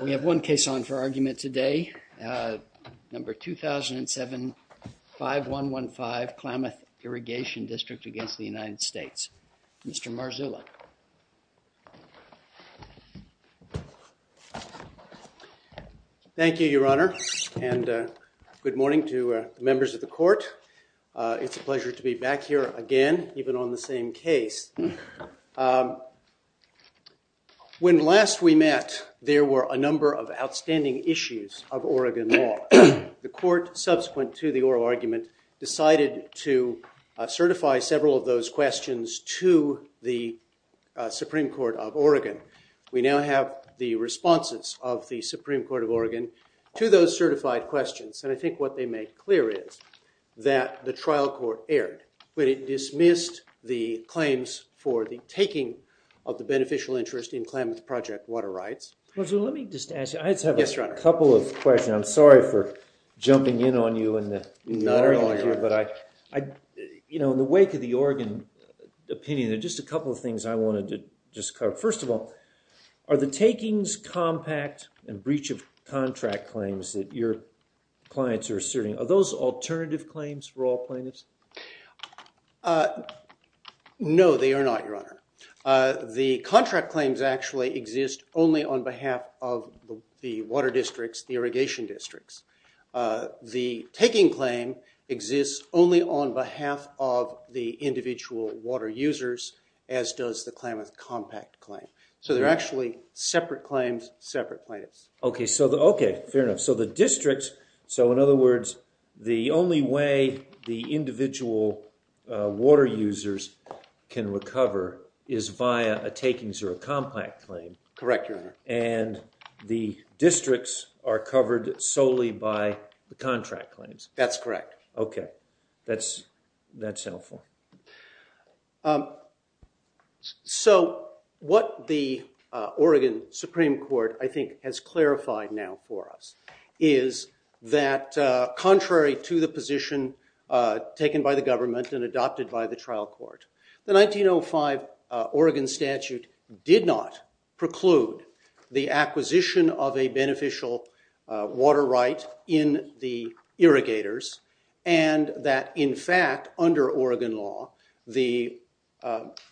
We have one case on for argument today, number 2007-5115, Klamath Irrigation District against the United States, Mr. Marzullo. Thank you, Your Honor, and good morning to members of the Court. It's a pleasure to be back here again, even on the same case. When last we met, there were a number of outstanding issues of Oregon law. The Court, subsequent to the oral argument, decided to certify several of those questions to the Supreme Court of Oregon. We now have the responses of the Supreme Court of Oregon to those certified questions, and I think what they make clear is that the trial court erred, but it dismissed the claims for the taking of the beneficial interest in Klamath Project water rights. Marzullo, let me just ask you, I just have a couple of questions. I'm sorry for jumping in on you in the wake of the Oregon opinion, there are just a couple of things I wanted to discuss. First of all, are the takings, compact, and breach of contract claims that your clients are asserting, are those alternative claims for all plaintiffs? No, they are not, Your Honor. The contract claims actually exist only on behalf of the water districts, the irrigation districts. The taking claim exists only on behalf of the individual water users, as does the Klamath Compact claim. So they're actually separate claims, separate plaintiffs. Okay, fair enough. So the districts, so in other words, the only way the individual water users can recover is by a takings or a compact claim. Correct, Your Honor. And the districts are covered solely by the contract claims. That's correct. Okay, that's helpful. So, what the Oregon Supreme Court, I think, has clarified now for us is that contrary to the position taken by the government and adopted by the trial court, the 1905 Oregon statute did not preclude the acquisition of a beneficial water right in the irrigators, and that, in fact, under Oregon law, the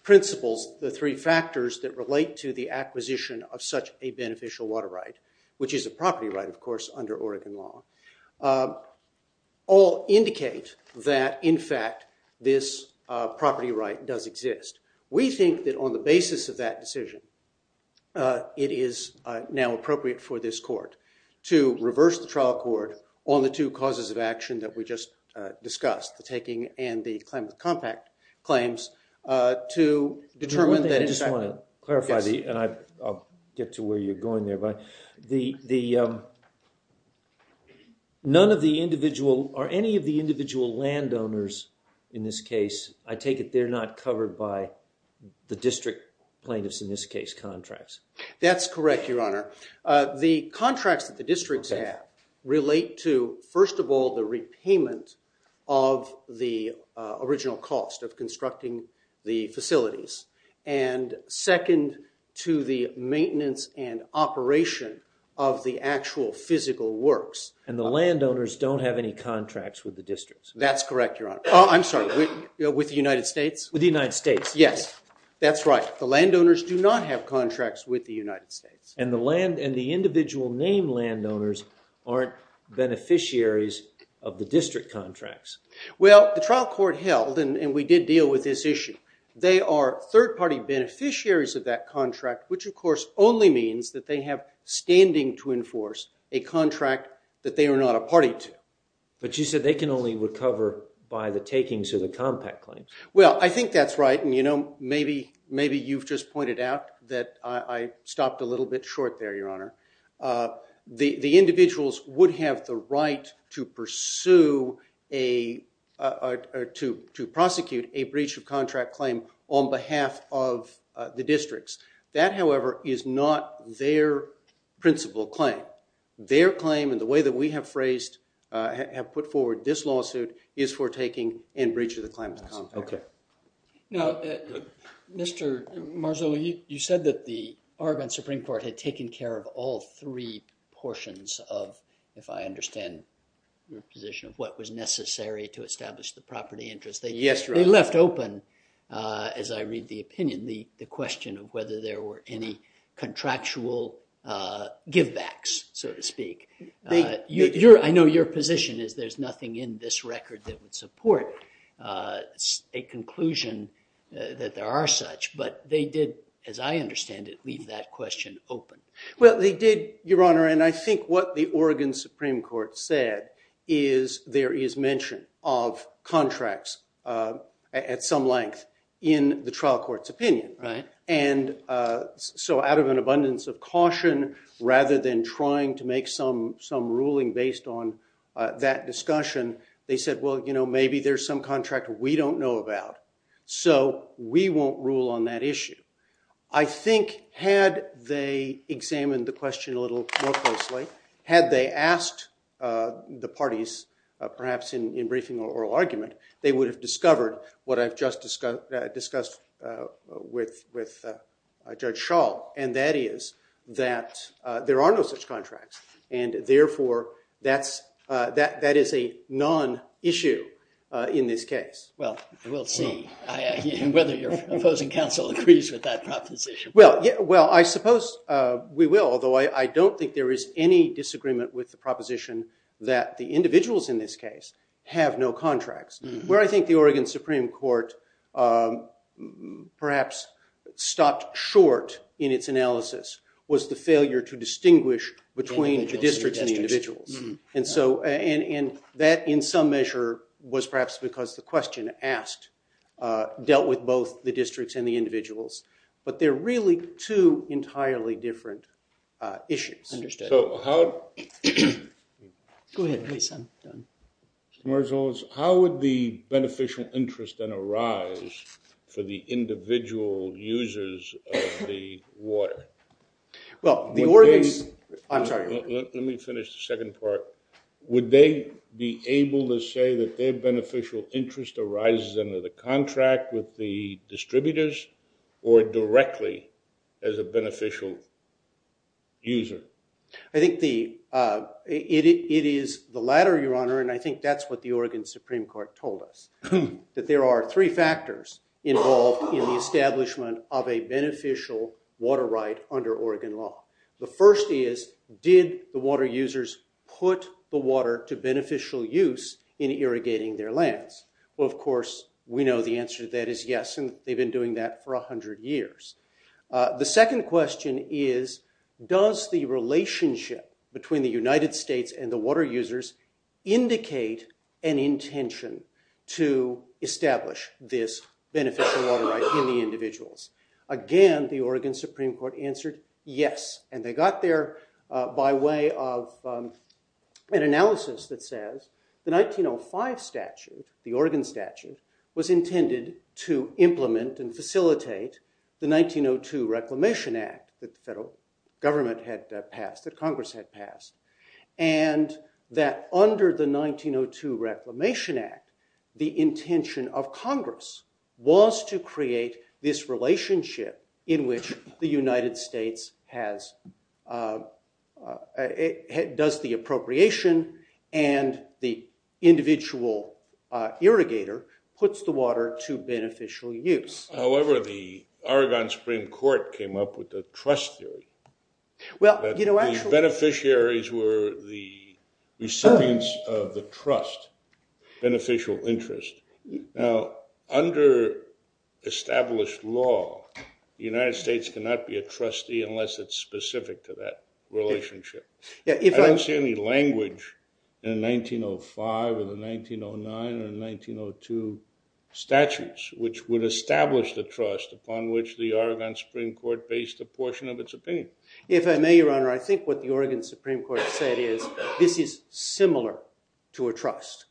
principles, the three factors that relate to the acquisition of such a beneficial water right, which is a property right, of course, under Oregon law, all indicate that, in fact, this property right does exist. We think that on the basis of that decision, it is now appropriate for this court to reverse the trial court on the two causes of action that we just discussed, the taking and the claim of compact claims, to determine that... I just want to clarify, and I'll get to where you're going there, but none of the individual or any of the individual landowners in this case, I take it they're not covered by the district plaintiffs, in this case, contracts. That's correct, Your Honor. The contracts that the districts have relate to, first of all, the repayment of the original cost of constructing the facilities, and second, to the maintenance and operation of the actual physical works. The landowners don't have any contracts with the districts. That's correct, Your Honor. I'm sorry, with the United States? With the United States, yes. That's right. The landowners do not have contracts with the United States, and the individual name landowners aren't beneficiaries of the district contracts. Well, the trial court held, and we did deal with this issue. They are third-party beneficiaries of that contract, which of course only means that they have standing to enforce a contract that they are not a party to. But you said they can only recover by the takings of the compact claims. Well, I think that's right, and maybe you've just pointed out that I stopped a little bit short there, Your Honor. The individuals would have the right to pursue, or to prosecute, a breach of contract claim on behalf of the districts. That, however, is not their principal claim. Their claim, in the way that we have phrased, have put forward this lawsuit, is for taking and breach of the claim of the compact. Now, Mr. Marzullo, you said that the Arvind Supreme Court had taken care of all three portions of, if I understand your position, of what was necessary to establish the property interest. Yes, Your Honor. They left open, as I read the opinion, the question of whether there were any contractual givebacks, so to speak. I know your position is there's nothing in this record that would support a conclusion that there are such, but they did, as I understand it, leave that question open. Well, they did, Your Honor, and I think what the Oregon Supreme Court said is there is mention of contracts at some length in the trial court's opinion. Right. And so out of an abundance of caution, rather than trying to make some ruling based on that discussion, they said, well, you know, maybe there's some contract we don't know about, so we won't rule on that issue. I think had they examined the question a little more closely, had they asked the parties perhaps in briefing or oral argument, they would have discovered what I just discussed with Judge Schall, and that is that there are no such contracts, and therefore that is a non-issue in this case. Well, we'll see whether your opposing counsel agrees with that proposition. Well, I suppose we will, although I don't think there is any disagreement with the proposition that the individuals in this case have no contracts. Where I think the Oregon Supreme Court perhaps stopped short in its analysis was the failure to distinguish between the districts and the individuals, and that in some measure was perhaps because the question dealt with both the districts and the individuals, but they're really two entirely different issues. Understood. So how would the beneficial interest then arise for the individual users of the water? Well, the Oregon's contract... Let me finish the second part. Would they be able to say that their beneficial interest arises under the contract with the distributors or directly as a beneficial user? I think it is the latter, Your Honor, and I think that's what the Oregon Supreme Court told us, that there are three factors involved in the establishment of a beneficial water right under Oregon law. The first is, did the water users put the water to beneficial use in irrigating their lands? Well, of course, we know the answer to that is yes, and they've been doing that for 100 years. The second question is, does the relationship between the United States and the water users indicate an intention to establish this beneficial water right in the individuals? Again, the Oregon Supreme Court answered yes, and they got there by way of an analysis that says the 1905 statute, the Oregon statute, was intended to implement and facilitate the 1902 Reclamation Act that the government had passed, that Congress had passed, and that under the 1902 Reclamation Act, the intention of Congress was to create this relationship in which the United States does the appropriation and the individual irrigator puts the water to beneficial use. However, the Oregon Supreme Court came up with the trust theory. The beneficiaries were the recipients of the trust, beneficial interest. Now, under established law, the United States cannot be a trustee unless it's specific to that relationship. I don't see any language in 1905 or the 1909 or the 1902 statutes which would establish the trust upon which the Oregon Supreme Court based a portion of its opinion. If I may, Your Honor, I think what the Oregon Supreme Court said is this is similar to a trust.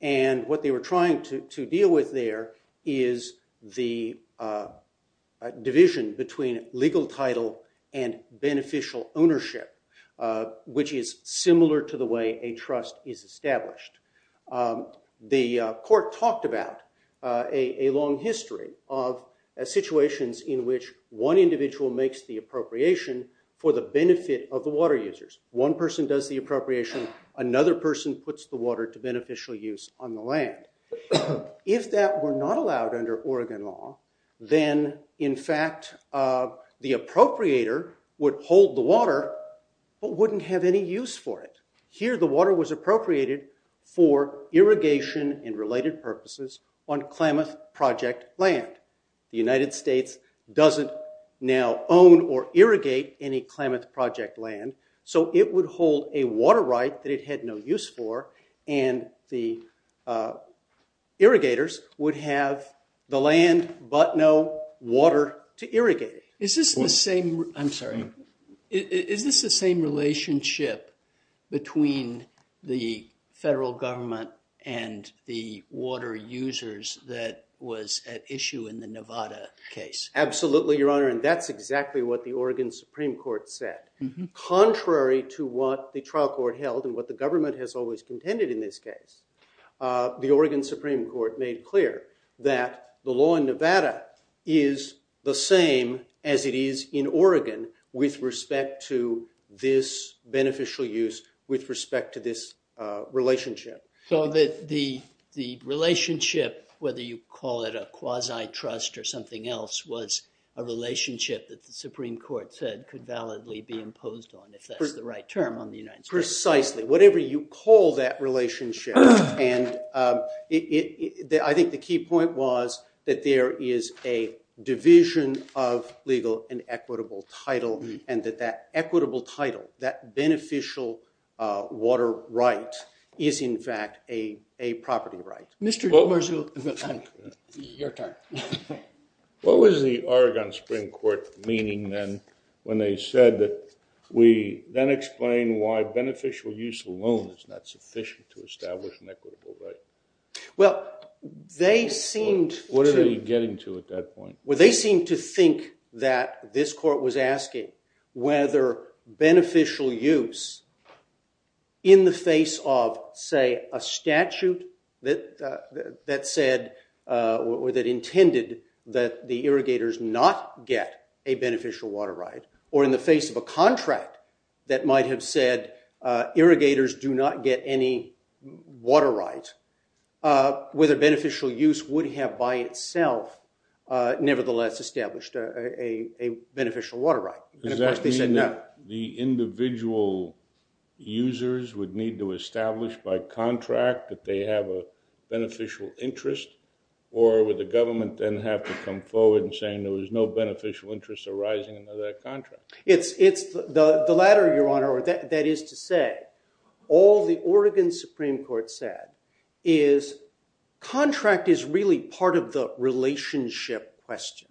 What's important to deal with there is the division between legal title and beneficial ownership, which is similar to the way a trust is established. The court talked about a long history of situations in which one individual makes the appropriation for the benefit of the water users. One person does the appropriation. Another person puts the water to beneficial use on the land. If that were not allowed under Oregon law, then in fact the appropriator would hold the water but wouldn't have any use for it. Here, the water was appropriated for irrigation and related purposes on Klamath Project land. The United States doesn't now own or irrigate any Klamath Project land, so it would hold a water right that it had no use for and the irrigators would have the land but no water to irrigate it. Is this the same relationship between the federal government and the water users that was at issue in the Nevada case? Absolutely, Your Honor, and that's exactly what the Oregon Supreme Court said. Contrary to what the trial court held and what the government has always contended in this case, the Oregon Supreme Court made clear that the law in Nevada is the same as it is in Oregon with respect to this beneficial use with respect to this relationship. So the relationship, whether you call it a quasi-trust or something else, was a relationship that the Supreme Court said could validly be imposed on if that's the right term on the United States. Precisely. Whatever you call that relationship. I think the key point was that there is a division of legal and equitable title and that that equitable title, that beneficial water right, is in fact a property right. Your turn. What was the Oregon Supreme Court meaning then when they said that we then explain why beneficial use alone is not sufficient to establish an equitable right? What are we getting to at that point? They seemed to think that this court was asking whether beneficial use in the face of, say, a statute that said or that intended that the irrigators not get a beneficial water right or in the face of a contract that might have said irrigators do not get any water right, whether beneficial use would have by itself nevertheless established a beneficial water right. Does that mean that the individual users would need to establish by contract that they have a beneficial interest or would the government then have to come forward and saying there was no beneficial interest arising out of that contract? It's the latter, Your Honor. That is to say, all the Oregon Supreme Court said is contract is really part of the relationship question.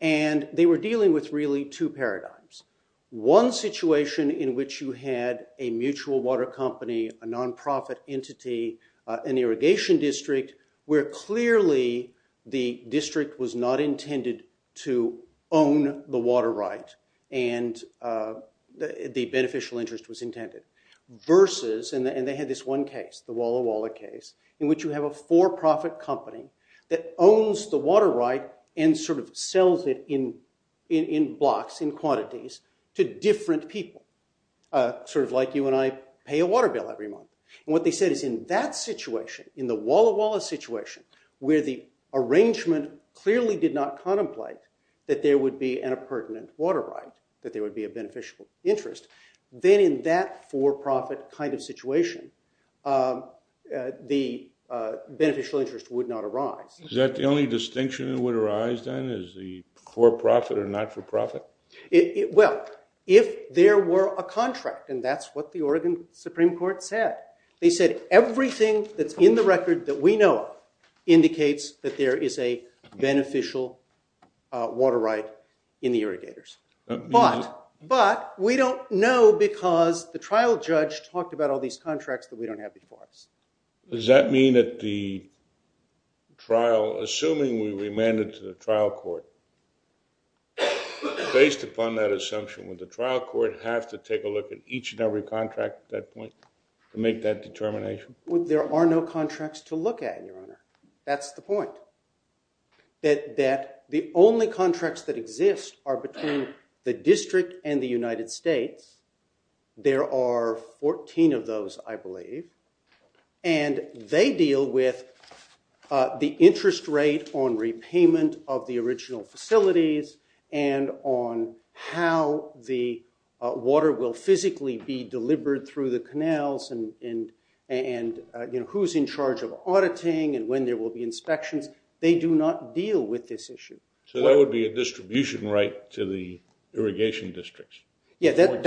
They were dealing with really two paradigms. One situation in which you had a mutual water company, a nonprofit entity, an irrigation district where clearly the district was not intended to own the water right and the beneficial interest was intended versus, and they had this one case, the Walla Walla case, in which you have a for-profit company that owns the water right and sort of sells it in blocks, in quantities, to different people, sort of like you and I pay a water bill every month. What they said is in that situation, in the Walla Walla situation, where the arrangement clearly did not contemplate that there would be an impertinent water right, that there would be a beneficial interest, then in that for-profit kind of situation, the district beneficial interest would not arise. Is that the only distinction that would arise, then, is the for-profit or not-for-profit? Well, if there were a contract, and that's what the Oregon Supreme Court said. They said everything that's in the record that we know of indicates that there is a beneficial water right in the irrigators. But we don't know because the trial judge talked about all these contracts that we don't have before us. Does that mean that the trial, assuming we remand it to the trial court, based upon that assumption, would the trial court have to take a look at each and every contract at that point to make that determination? Well, there are no contracts to look at, Your Honor. That's the point. That the only contracts that exist are between the district and the United States. There are 14 of those, I believe, and they deal with the interest rate on repayment of the original facilities and on how the water will physically be delivered through the canals and who's in charge of auditing and when there will be inspection. They do not deal with this issue. So that would be a distribution right to the irrigation districts? Yes, it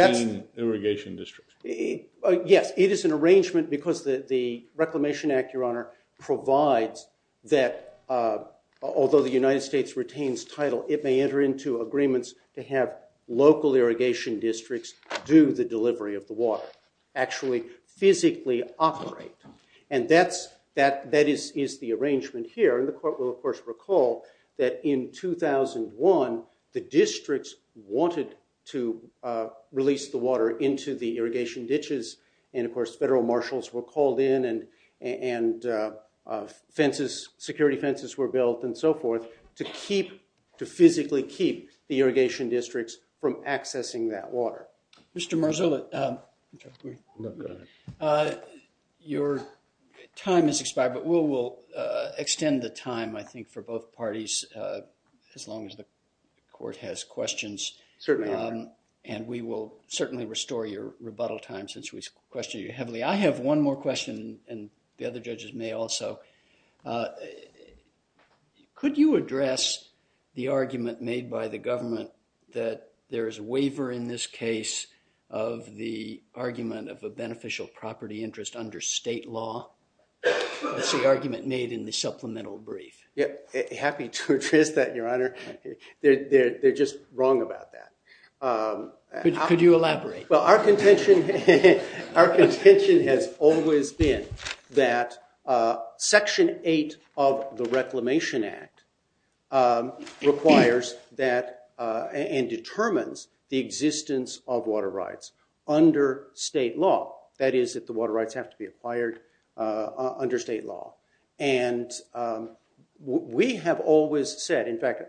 is an arrangement because the Reclamation Act, Your Honor, provides that although the United States retains title, it may enter into agreements to have local irrigation districts do the delivery of the water, actually physically operate. And that is the arrangement here, and the court will, of course, recall that in 2001, the districts wanted to release the water into the irrigation ditches. And, of course, federal marshals were called in and security fences were built and so forth to physically keep the irrigation districts from accessing that water. Mr. Marzullo, your time has expired, but we'll extend the time, I think, for both parties as long as the court has questions. Certainly. And we will certainly restore your rebuttal time since we've questioned you heavily. I have one more question, and the other judges may also. Could you address the argument made by the government that there is a waiver in this case of the argument of a beneficial property interest under state law? That's the argument made in the supplemental brief. Yeah, happy to address that, Your Honor. They're just wrong about that. Could you elaborate? Well, our contention has always been that Section 8 of the Reclamation Act requires that and determines the existence of water rights under state law. That is, that the water rights have to be acquired under state law. And we have always said, in fact,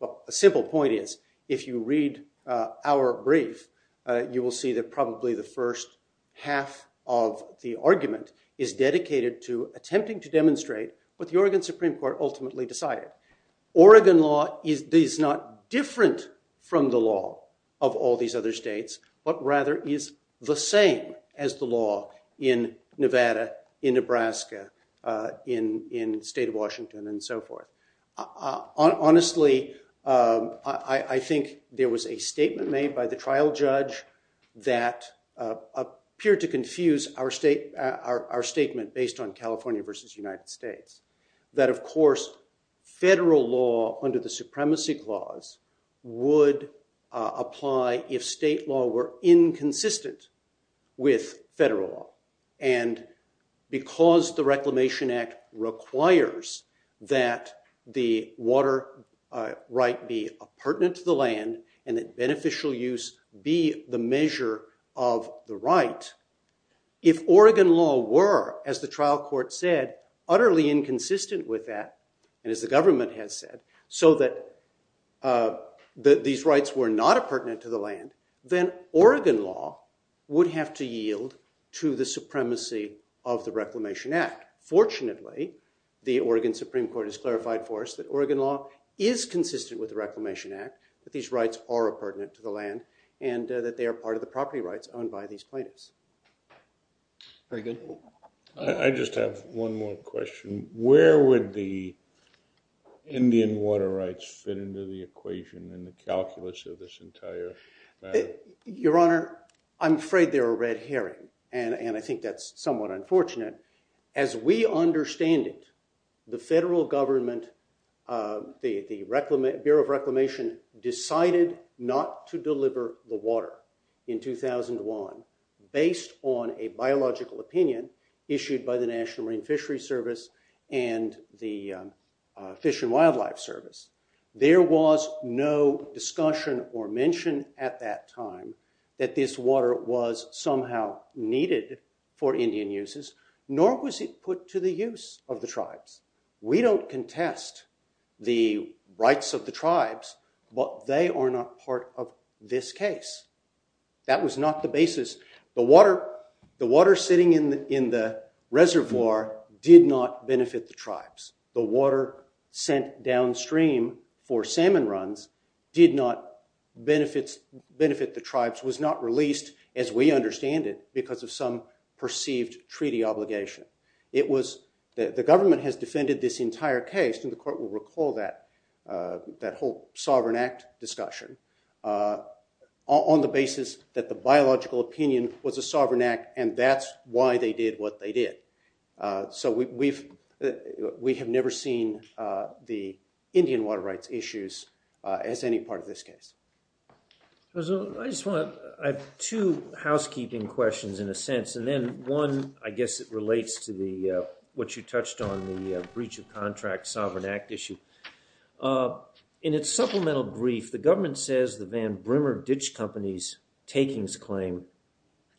a simple point is, if you read our brief, you will see that probably the first half of the argument is dedicated to attempting to demonstrate what the Oregon Supreme Court ultimately decided. Oregon law is not different from the law of all these other states, but rather is the same as the law in Nevada, in Nebraska, in the state of Washington, and so forth. Honestly, I think there was a statement made by the trial judge that appeared to confuse our statement based on California versus the United States. That, of course, federal law under the Supremacy Clause would apply if state law were inconsistent with federal law. And because the Reclamation Act requires that the water right be pertinent to the land and that beneficial use be the measure of the right, if Oregon law were, as the trial court said, utterly inconsistent with that, and as the government has said, so that these rights were not pertinent to the land, then Oregon law would have to yield to the supremacy of the Reclamation Act. Fortunately, the Oregon Supreme Court has clarified for us that Oregon law is consistent with the Reclamation Act, that these rights are pertinent to the land, and that they are part of the property rights owned by these plaintiffs. Very good. I just have one more question. Where would the Indian water rights fit into the equation in the calculus of this entire thing? Your Honor, I'm afraid they're a red herring, and I think that's somewhat unfortunate. As we understand it, the federal government, the Bureau of Reclamation decided not to deliver the water in 2001 based on a biological opinion issued by the National Marine Fishery Service and the Fish and Wildlife Service. There was no discussion or mention at that time that this water was somehow needed for Indian uses. Nor was it put to the use of the tribes. We don't contest the rights of the tribes, but they are not part of this case. That was not the basis. The water sitting in the reservoir did not benefit the tribes. The water sent downstream for salmon runs did not benefit the tribes, was not released, as we understand it, because of some perceived treaty obligation. The government has defended this entire case, and the court will recall that whole Sovereign Act discussion, on the basis that the biological opinion was a sovereign act, and that's why they did what they did. We have never seen the Indian water rights issues as any part of this case. I have two housekeeping questions, in a sense. One, I guess it relates to what you touched on, the breach of contract Sovereign Act issue. In its supplemental brief, the government says the Van Brimmer Ditch Company's takings claim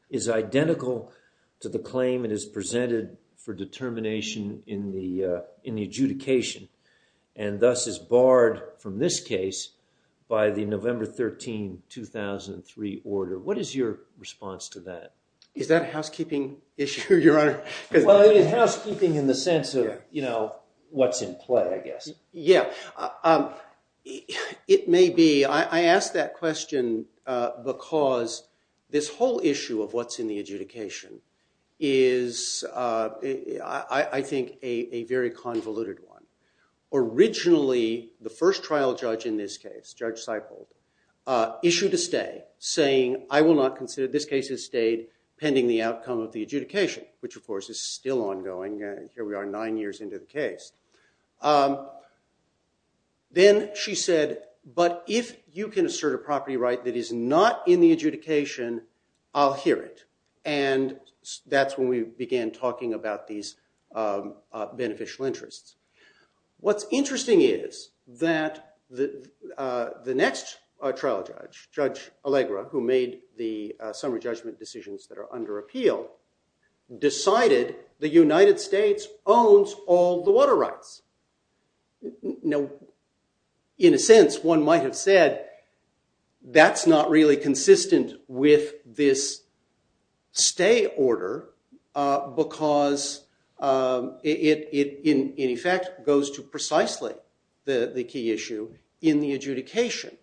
is identical to the claim that is presented for determination in the adjudication, and thus is barred from this case by the November 13, 2003 order. What is your response to that? Is that a housekeeping issue, Your Honor? Well, housekeeping in the sense of what's in play, I guess. Yeah, it may be. I ask that question because this whole issue of what's in the adjudication is, I think, a very convoluted one. Originally, the first trial judge in this case, Judge Seifold, issued a stay, saying, I will not consider this case as stayed pending the outcome of the adjudication, which, of course, is still ongoing, and here we are nine years into the case. Then she said, but if you can assert a property right that is not in the adjudication, I'll hear it. That's when we began talking about these beneficial interests. What's interesting is that the next trial judge, Judge Allegra, who made the summary judgment decisions that are under appeal, decided the United States owns all the water rights. Now, in a sense, one might have said, that's not really consistent with this stay order because it, in effect, goes to precisely the key issue in the adjudication.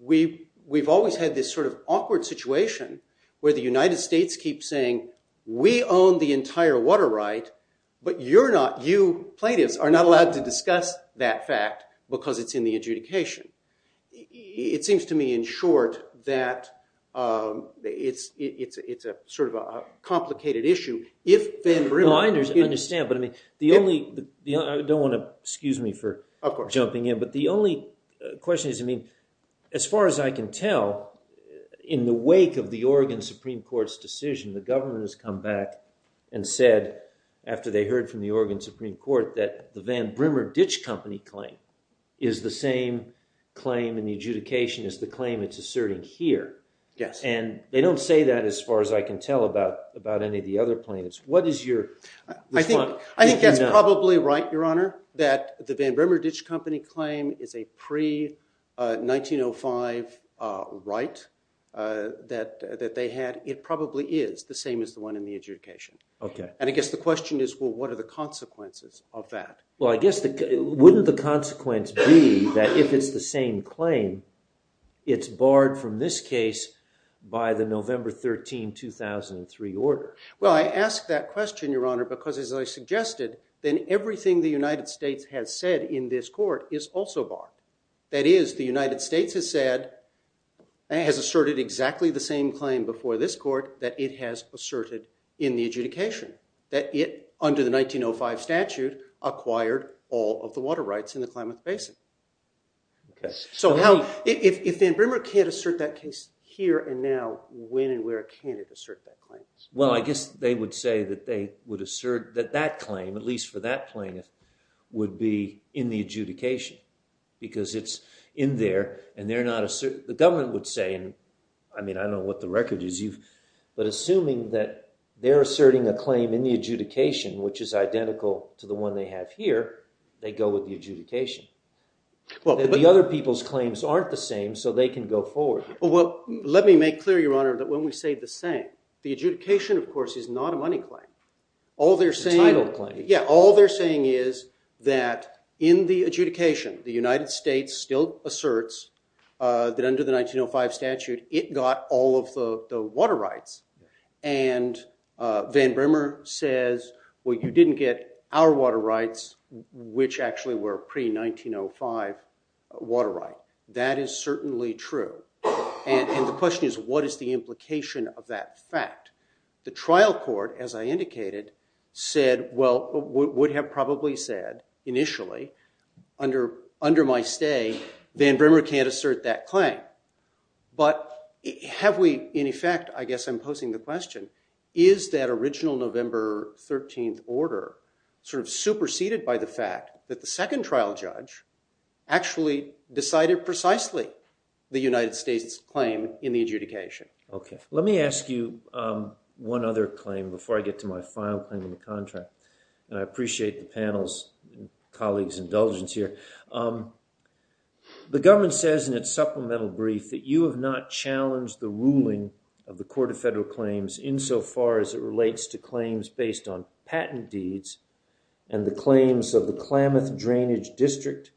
We've always had this sort of awkward situation where the United States keeps saying, we own the entire water right, but you plaintiffs are not allowed to discuss that fact because it's in the adjudication. It seems to me, in short, that it's a complicated issue. I understand, but I don't want to, excuse me for jumping in, but the only question is, as far as I can tell, in the wake of the Oregon Supreme Court's decision, the government has come back and said, after they heard from the Oregon Supreme Court, that the Van Brimmer Ditch Company claim is the same claim in the adjudication as the claim that's asserted here. They don't say that, as far as I can tell, about any of the other plaintiffs. What is your response? I think that's probably right, Your Honor, that the Van Brimmer Ditch Company claim is a pre-1905 right that they had. It probably is the same as the one in the adjudication. And I guess the question is, well, what are the consequences of that? Well, I guess, wouldn't the consequence be that if it's the same claim, it's barred from this case by the November 13, 2003 order? Well, I ask that question, Your Honor, because, as I suggested, then everything the United States has said in this court is also barred. That is, the United States has asserted exactly the same claim before this court that it has asserted in the adjudication, that it, under the 1905 statute, acquired all of the water rights in the Plymouth Basin. So if Van Brimmer can't assert that case here and now, when and where can it assert that claim? Well, I guess they would say that they would assert that that claim, at least for that plaintiff, would be in the adjudication, because it's in there and they're not assert... The government would say, I mean, I don't know what the record is, but assuming that they're asserting a claim in the adjudication, which is identical to the one they have here, they go with the adjudication. The other people's claims aren't the same, so they can go forward. Well, let me make clear, Your Honor, that when we say the same, the adjudication, of course, is not a money claim. It's a title claim. Yeah, all they're saying is that in the adjudication, the United States still asserts that under the 1905 statute, it got all of the water rights. And Van Brimmer says, well, you didn't get our water rights, which actually were pre-1905 water rights. That is certainly true. And the question is, what is the implication of that fact? The trial court, as I indicated, said, well, would have probably said initially, under my stay, Van Brimmer can't assert that claim. But have we, in effect, I guess I'm posing the question, is that original November 13th order sort of superseded by the fact that the second trial judge actually decided precisely the United States claim in the adjudication? Okay. Let me ask you one other claim before I get to my final thing in the contract. And I appreciate the panel's colleagues' indulgence here. The government says in its supplemental brief that you have not challenged the ruling of the Court of Federal Claims insofar as it relates to claims based on patent deeds and the claims of the Klamath Drainage District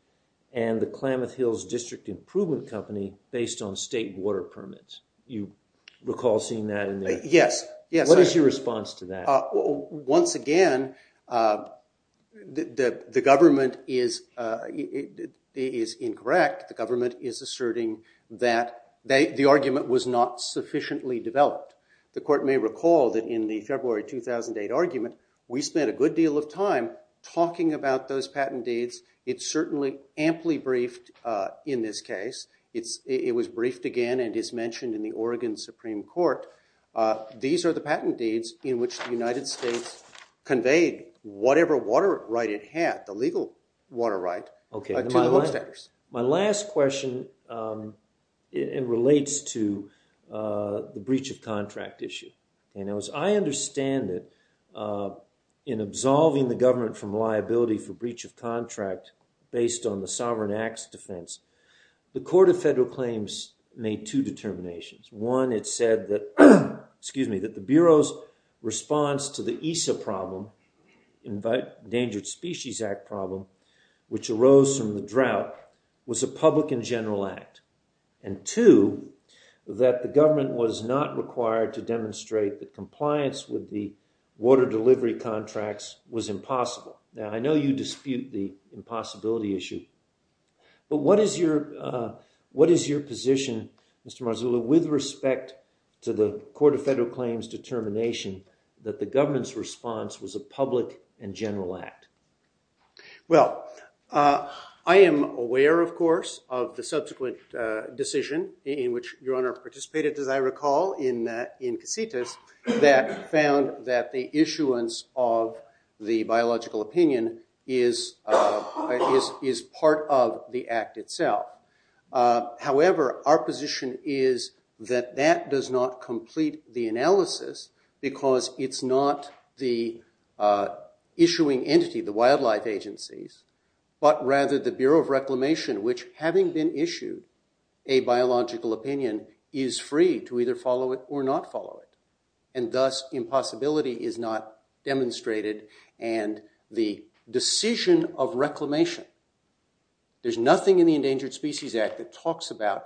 and the Klamath Hills District Improvement Company based on state water permits. Do you recall seeing that in there? Yes. What is your response to that? Once again, the government is incorrect. The government is asserting that the argument was not sufficiently developed. The court may recall that in the February 2008 argument, we spent a good deal of time talking about those patent deeds. It's certainly amply briefed in this case. It was briefed again and is mentioned in the Oregon Supreme Court. These are the patent deeds in which the United States conveyed whatever water right it had, the legal water right, to the taxpayers. My last question relates to the breach of contract issue. As I understand it, in absolving the government from liability for breach of contract based on the Sovereign Acts defense, the Court of Federal Claims made two determinations. One, it said that the Bureau's response to the ESA problem, Endangered Species Act problem, which arose from the drought, was a public and general act. And two, that the government was not required to demonstrate that compliance with the water delivery contracts was impossible. Now, I know you dispute the impossibility issue, but what is your position, Mr. Marzullo, with respect to the Court of Federal Claims determination that the government's response was a public and general act? Well, I am aware, of course, of the subsequent decision in which Your Honor participated, as I recall, in Cassitas, that found that the issuance of the biological opinion is part of the act itself. However, our position is that that does not complete the analysis because it's not the issuing entity, the wildlife agencies, but rather the Bureau of Reclamation, which, having been issued a biological opinion, is free to either follow it or not follow it. And thus, impossibility is not demonstrated. And the decision of reclamation, there's nothing in the Endangered Species Act that talks about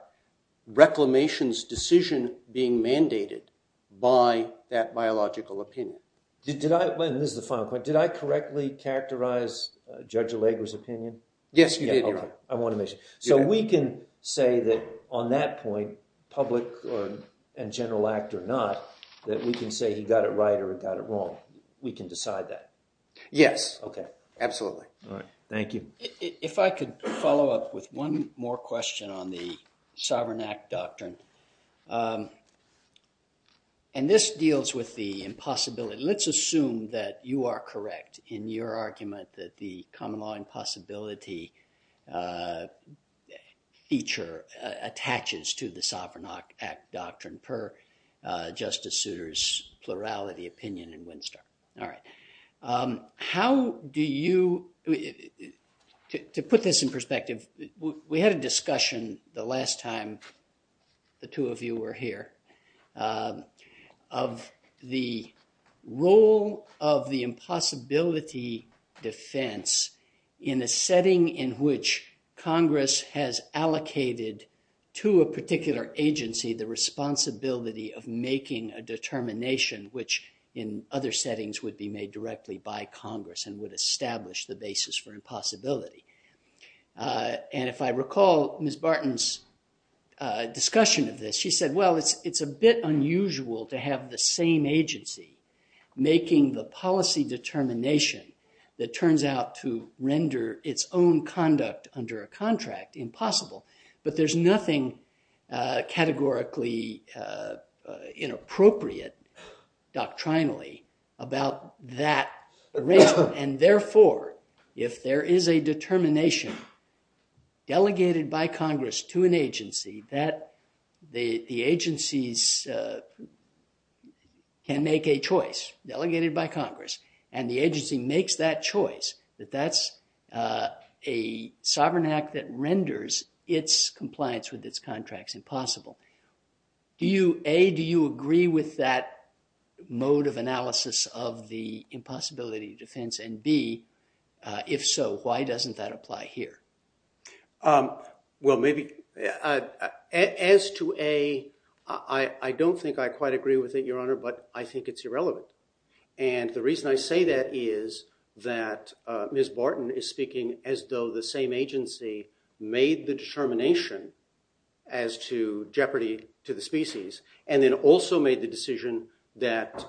reclamation's decision being mandated by that biological opinion. Did I, and this is the final point, did I correctly characterize Judge Allegra's opinion? Yes, you did, Your Honor. I want to make sure. So we can say that on that point, public and general act or not, that we can say he got it right or he got it wrong. We can decide that. Yes. Okay. Absolutely. All right. Thank you. If I could follow up with one more question on the Sovereign Act Doctrine, and this deals with the impossibility. Let's assume that you are correct in your argument that the common law impossibility feature attaches to the Sovereign Act Doctrine per Justice Souter's plurality opinion in Winstar. All right. How do you, to put this in perspective, we had a discussion the last time the two of you were here of the role of the impossibility defense in a setting in which Congress has allocated to a particular agency the responsibility of making a determination, which in other settings would be made directly by Congress and would establish the basis for impossibility. And if I recall Ms. Barton's discussion of this, she said, well, it's a bit unusual to have the same agency making the policy determination that turns out to render its own conduct under a contract impossible. But there's nothing categorically inappropriate doctrinally about that arrangement, and therefore, if there is a determination delegated by Congress to an agency that the agencies can make a choice, delegated by Congress, and the agency makes that choice, that that's a Sovereign Act that renders, its compliance with its contracts impossible. Do you, A, do you agree with that mode of analysis of the impossibility defense, and B, if so, why doesn't that apply here? Well, maybe, as to A, I don't think I quite agree with it, Your Honor, but I think it's irrelevant. And the reason I say that is that Ms. Barton is speaking as though the same agency made the determination as to jeopardy to the species, and then also made the decision that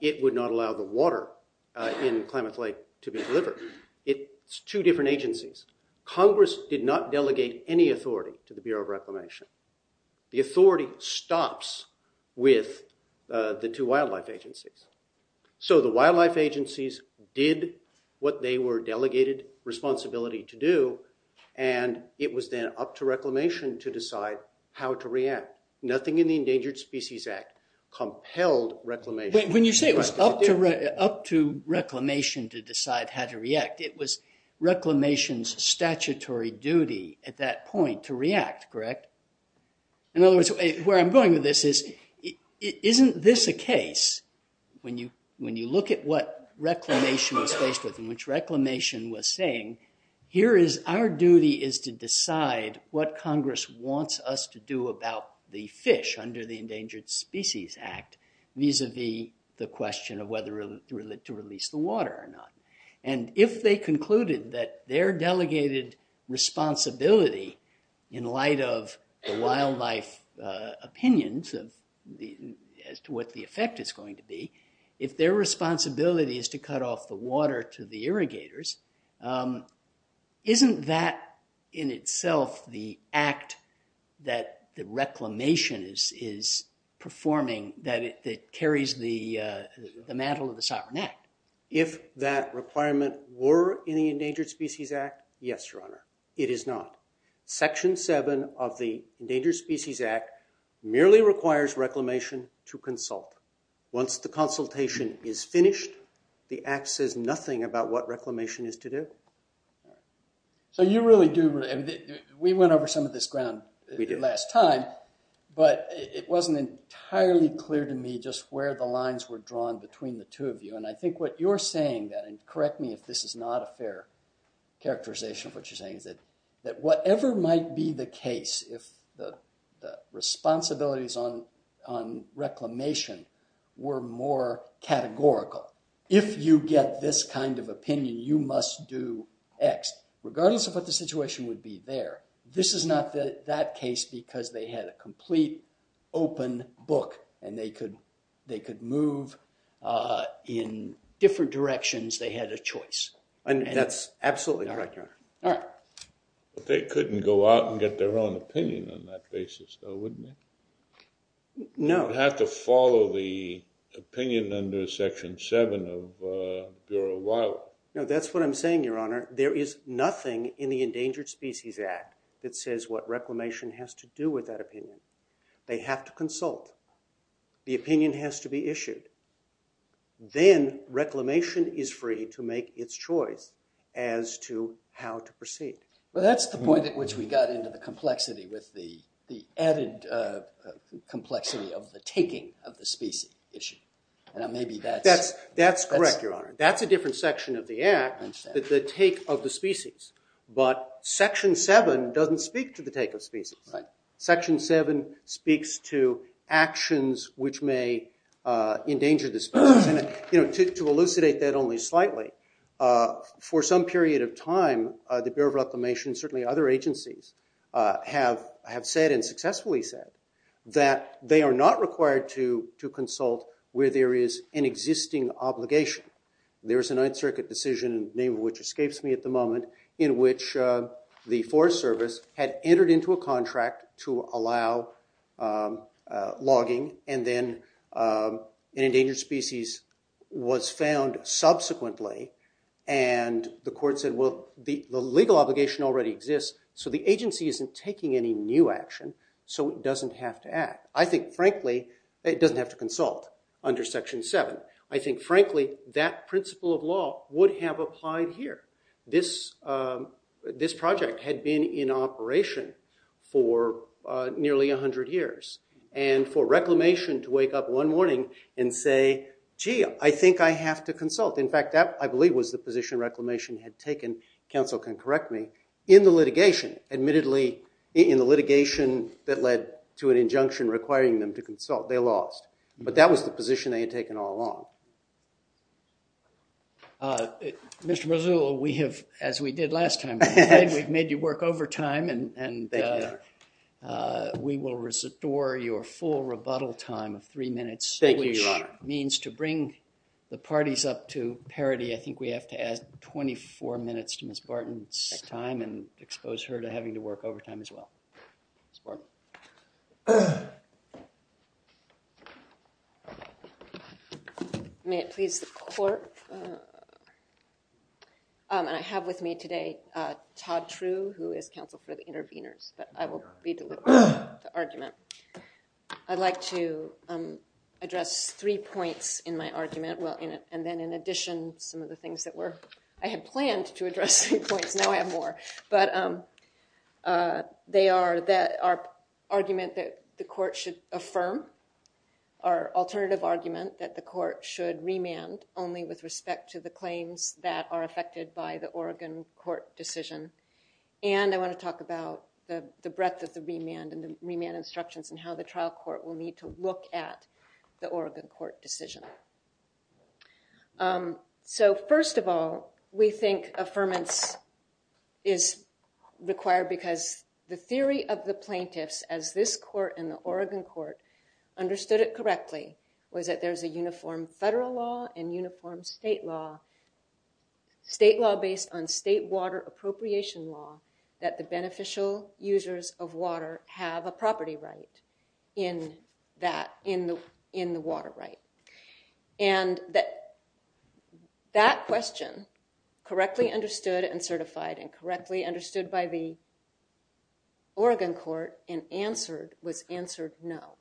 it would not allow the water in climate flight to be delivered. It's two different agencies. Congress did not delegate any authority to the Bureau of Reclamation. The authority stops with the two wildlife agencies. So the wildlife agencies did what they were delegated responsibility to do, and it was then up to Reclamation to decide how to react. Nothing in the Endangered Species Act compelled Reclamation. When you say it was up to Reclamation to decide how to react, it was Reclamation's statutory duty at that point to react, correct? In other words, where I'm going with this is, isn't this a case? When you look at what Reclamation was saying, here is our duty is to decide what Congress wants us to do about the fish under the Endangered Species Act, vis-a-vis the question of whether to release the water or not. If they concluded that their delegated responsibility in light of the wildlife opinions as to what the effect is going to be, if their responsibility is to cut off the water to the irrigators, isn't that in itself the act that Reclamation is performing that carries the mantle of the Sovereign Act? If that requirement were in the Endangered Species Act, yes, Your Honor, it is not. Section 7 of the Endangered Species Act merely requires Reclamation to consult. Once the consultation is finished, the act says nothing about what Reclamation is to do. So you really do – we went over some of this ground last time, but it wasn't entirely clear to me just where the lines were drawn between the two of you. And correct me if this is not a fair characterization of what you're saying, that whatever might be the case, if the responsibilities on Reclamation were more categorical, if you get this kind of opinion, you must do X, regardless of what the situation would be there. This is not that case because they had a complete open book and they could move in different directions they had a choice. That's absolutely correct, Your Honor. But they couldn't go out and get their own opinion on that basis, though, wouldn't they? No. They'd have to follow the opinion under Section 7 of Bureau of Wildlife. No, that's what I'm saying, Your Honor. There is nothing in the Endangered Species Act that says what Reclamation has to do with that opinion. They have to consult. The opinion has to be issued. Then Reclamation is free to make its choice as to how to proceed. But that's the point at which we got into the complexity, the added complexity of the taking of the species issue. That's correct, Your Honor. That's a different section of the Act, the take of the species. But Section 7 doesn't speak to the take of species. Section 7 speaks to actions which may endanger the species. To elucidate that only slightly, for some period of time the Bureau of Reclamation and certainly other agencies have said and successfully said that they are not required to consult where there is an existing obligation. There's a Ninth Circuit decision, the name of which escapes me at the moment, in which the Forest Service had entered into a contract to allow logging, and then an endangered species was found subsequently, and the court said, well, the legal obligation already exists, so the agency isn't taking any new action, so it doesn't have to act. I think, frankly, it doesn't have to consult under Section 7. I think, frankly, that principle of law would have applied here. This project had been in operation for nearly 100 years, and for Reclamation to wake up one morning and say, gee, I think I have to consult. In fact, that, I believe, was the position Reclamation had taken, counsel can correct me, in the litigation. Admittedly, in the litigation that led to an injunction requiring them to consult, they lost. But that was the position they had taken all along. Mr. Mazzullo, as we did last time, we've made you work overtime, and we will restore your full rebuttal time of three minutes. Thank you, Your Honor. Which means to bring the parties up to parity, I think we have to add 24 minutes to Ms. Barton's time and expose her to having to work overtime as well. Ms. Barton. May it please the Court? I have with me today Todd True, who is Counsel for the Intervenors, but I will leave the argument. I'd like to address three points in my argument, and then in addition, some of the things that were, I had planned to address three points, now I have more, but they are that our argument that the Court should affirm, our alternative argument that the Court should remand, only with respect to the claims that are affected by the Oregon Court decision, and I want to talk about the breadth of the remand and the remand instructions and how the trial court will need to look at the Oregon Court decision. So first of all, we think affirmance is required because the theory of the plaintiffs, as this Court and the Oregon Court understood it correctly, was that there's a uniform federal law and uniform state law, state law based on state water appropriation law, that the beneficial users of water have a property right in that, in the water right. And that question, correctly understood and certified, and correctly understood by the Oregon Court and answered, was answered no.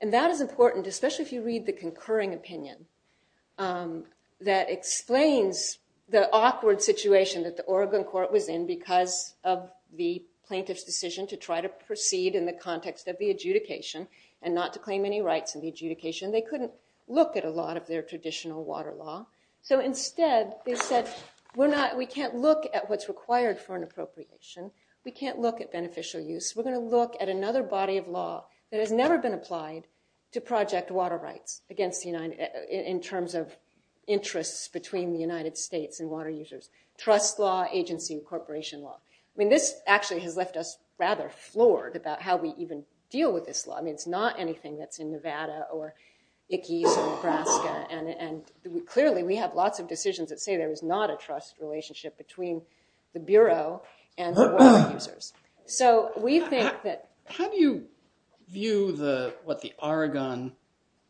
And that is important, especially if you read the concurring opinion, that explains the awkward situation that the Oregon Court was in because of the plaintiff's decision to try to proceed in the context of the adjudication and not to claim any rights in the adjudication. They couldn't look at a lot of their traditional water law, so instead they said we can't look at what's required for an appropriation, we can't look at beneficial use, we're going to look at another body of law that has never been applied to project water rights in terms of interests between the United States and water users, trust law, agency and corporation law. I mean this actually has left us rather floored about how we even deal with this law. I mean it's not anything that's in Nevada or Icky or Nebraska, and clearly we have lots of decisions that say there is not a trust relationship between the Bureau and water users. So we think that... How do you view what the Oregon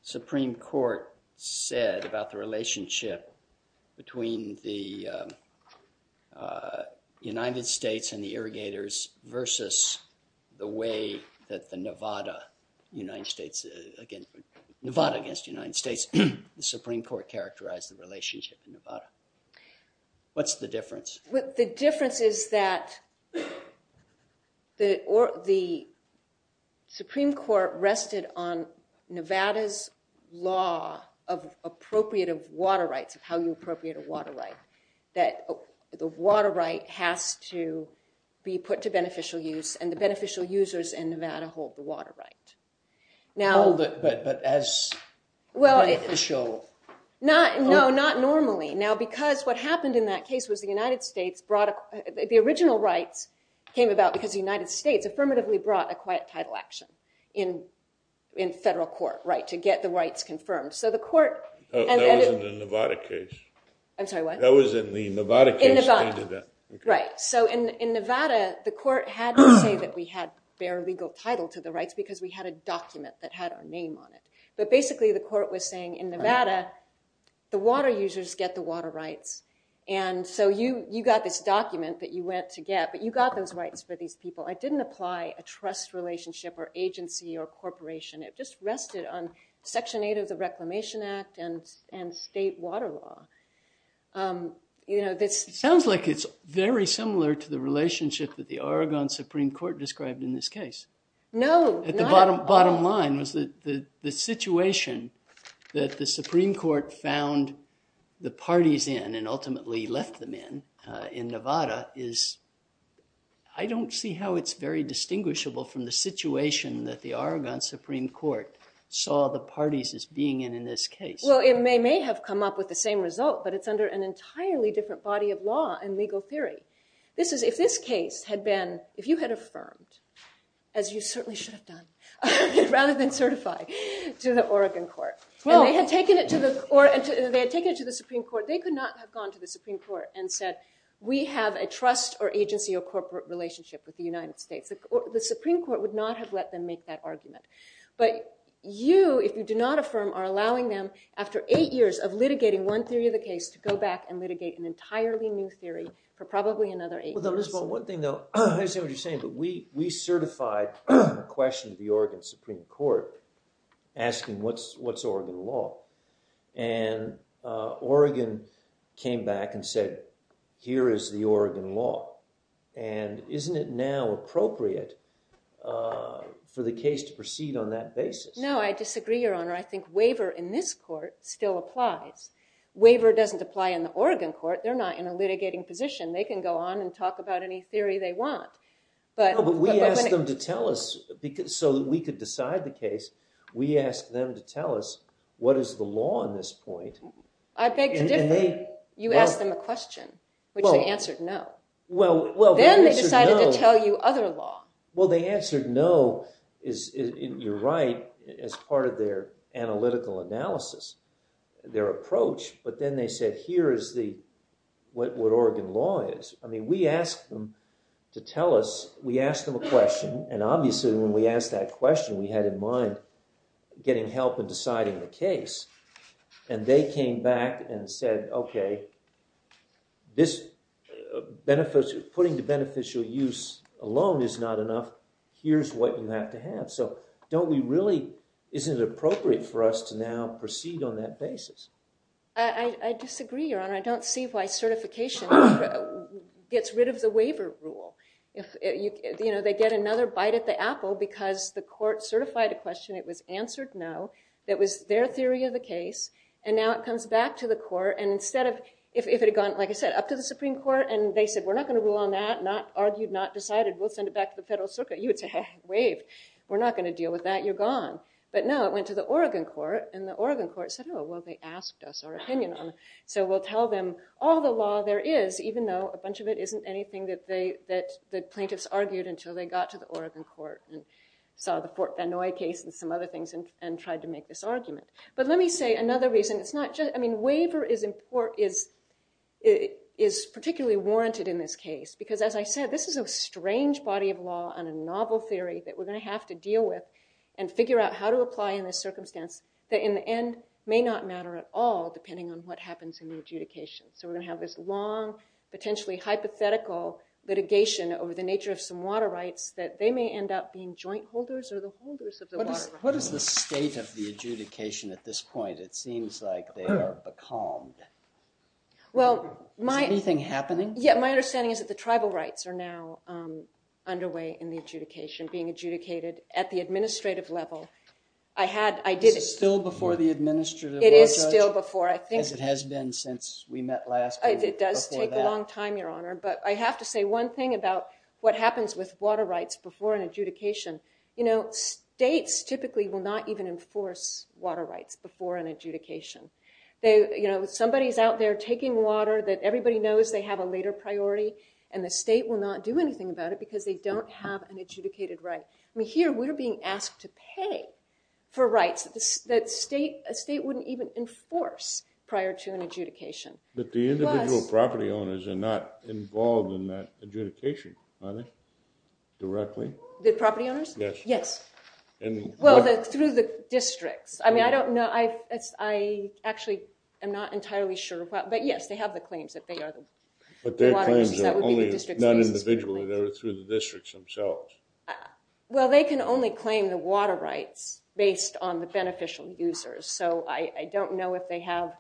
Supreme Court said about the relationship between the United States and the irrigators versus the way that Nevada against the United States, the Supreme Court characterized the relationship with Nevada? What's the difference? The difference is that the Supreme Court rested on Nevada's law of appropriative water rights, how you appropriate a water right. The water right has to be put to beneficial use and the beneficial users in Nevada hold the water right. Oh, but as... No, not normally. Now because what happened in that case was the United States brought... The original right came about because the United States affirmatively brought a quiet title action in federal court to get the rights confirmed. So the court... That was in the Nevada case. I'm sorry, what? That was in the Nevada case. Right. So in Nevada, the court had to say that we had fair legal title to the rights because we had a document that had our name on it. But basically the court was saying in Nevada, the water users get the water rights. And so you got this document that you went to get, but you got those rights for these people. I didn't apply a trust relationship or agency or corporation. It just rested on Section 8 of the Reclamation Act and state water law. It sounds like it's very similar to the relationship that the Oregon Supreme Court described in this case. No, not at all. The bottom line was the situation that the Supreme Court found the parties in and ultimately left them in in Nevada is... I don't see how it's very distinguishable from the situation that the Oregon Supreme Court saw the parties as being in in this case. Well, it may have come up with the same result, but it's under an entirely different body of law and legal theory. If this case had been... If you had affirmed, as you certainly should have done, rather than certified to the Oregon court, and they had taken it to the Supreme Court, they could not have gone to the Supreme Court and said, we have a trust or agency or corporate relationship with the United States. The Supreme Court would not have let them make that argument. But you, if you do not affirm, are allowing them, after eight years of litigating one theory of the case, to go back and litigate an entirely new theory for probably another eight years. Elizabeth, one thing though, I don't understand what you're saying, but we certified a question to the Oregon Supreme Court asking what's Oregon law? And Oregon came back and said, here is the Oregon law. And isn't it now appropriate for the case to proceed on that basis? No, I disagree, Your Honor. I think waiver in this court still applies. Waiver doesn't apply in the Oregon court. They're not in a litigating position. They can go on and talk about any theory they want. But we asked them to tell us so that we could decide the case. We asked them to tell us what is the law on this point. I beg your pardon? You asked them a question, which they answered no. Then they decided to tell you other law. Well, they answered no, you're right, as part of their analytical analysis, their approach. But then they said, here is what Oregon law is. I mean, we asked them to tell us, we asked them a question, and obviously when we asked that question, we had in mind getting help in deciding the case. And they came back and said, OK, putting the beneficial use alone is not enough. Here's what you have to have. So don't we really, isn't it appropriate for us to now proceed on that basis? I disagree, Your Honor. I don't see why certification gets rid of the waiver rule. They get another bite at the apple because the court certified a question. It was answered no. That was their theory of the case. And now it comes back to the court. And instead of, if it had gone, like I said, up to the Supreme Court and they said, we're not going to go on that, not argued, not decided, we'll send it back to the federal circuit, you would have to have it waived. We're not going to deal with that, you're gone. But no, it went to the Oregon court. And the Oregon court said, no, well, they asked us our opinion on it. So we'll tell them all the law there is, even though a bunch of it isn't anything that the plaintiffs argued until they got to the Oregon court and saw the Fort Benoy case and some other things and tried to make this argument. But let me say another reason. It's not just, I mean, waiver is particularly warranted in this case. Because as I said, this is a strange body of law and a novel theory that we're going to have to deal with and figure out how to apply in this circumstance that in the end may not matter at all, depending on what happens in the adjudication. So we're going to have this long, potentially hypothetical litigation over the nature of some water rights that they may end up being joint holders or the holders of the water rights. What is the state of the adjudication at this point? It seems like they have calmed. Well, my- Anything happening? Yeah, my understanding is that the tribal rights are now underway in the adjudication, being adjudicated at the administrative level. I had, I did- Is it still before the administrative level? It is still before, I think- As it has been since we met last year. It does take a long time, Your Honor. But I have to say one thing about what States typically will not even enforce water rights before an adjudication. You know, somebody's out there taking water that everybody knows they have a later priority, and the state will not do anything about it because they don't have an adjudicated right. I mean, here we're being asked to pay for rights that a state wouldn't even enforce prior to an adjudication. But the individual property owners are not involved in that adjudication, are they, directly? The property owners? Yes. Well, through the district. I mean, I don't know. I actually am not entirely sure. But yes, they have the claims that they are the water- But their claims are only, not individually, they're to the districts themselves. Well, they can only claim the water rights based on the beneficial users. So I don't know if they have,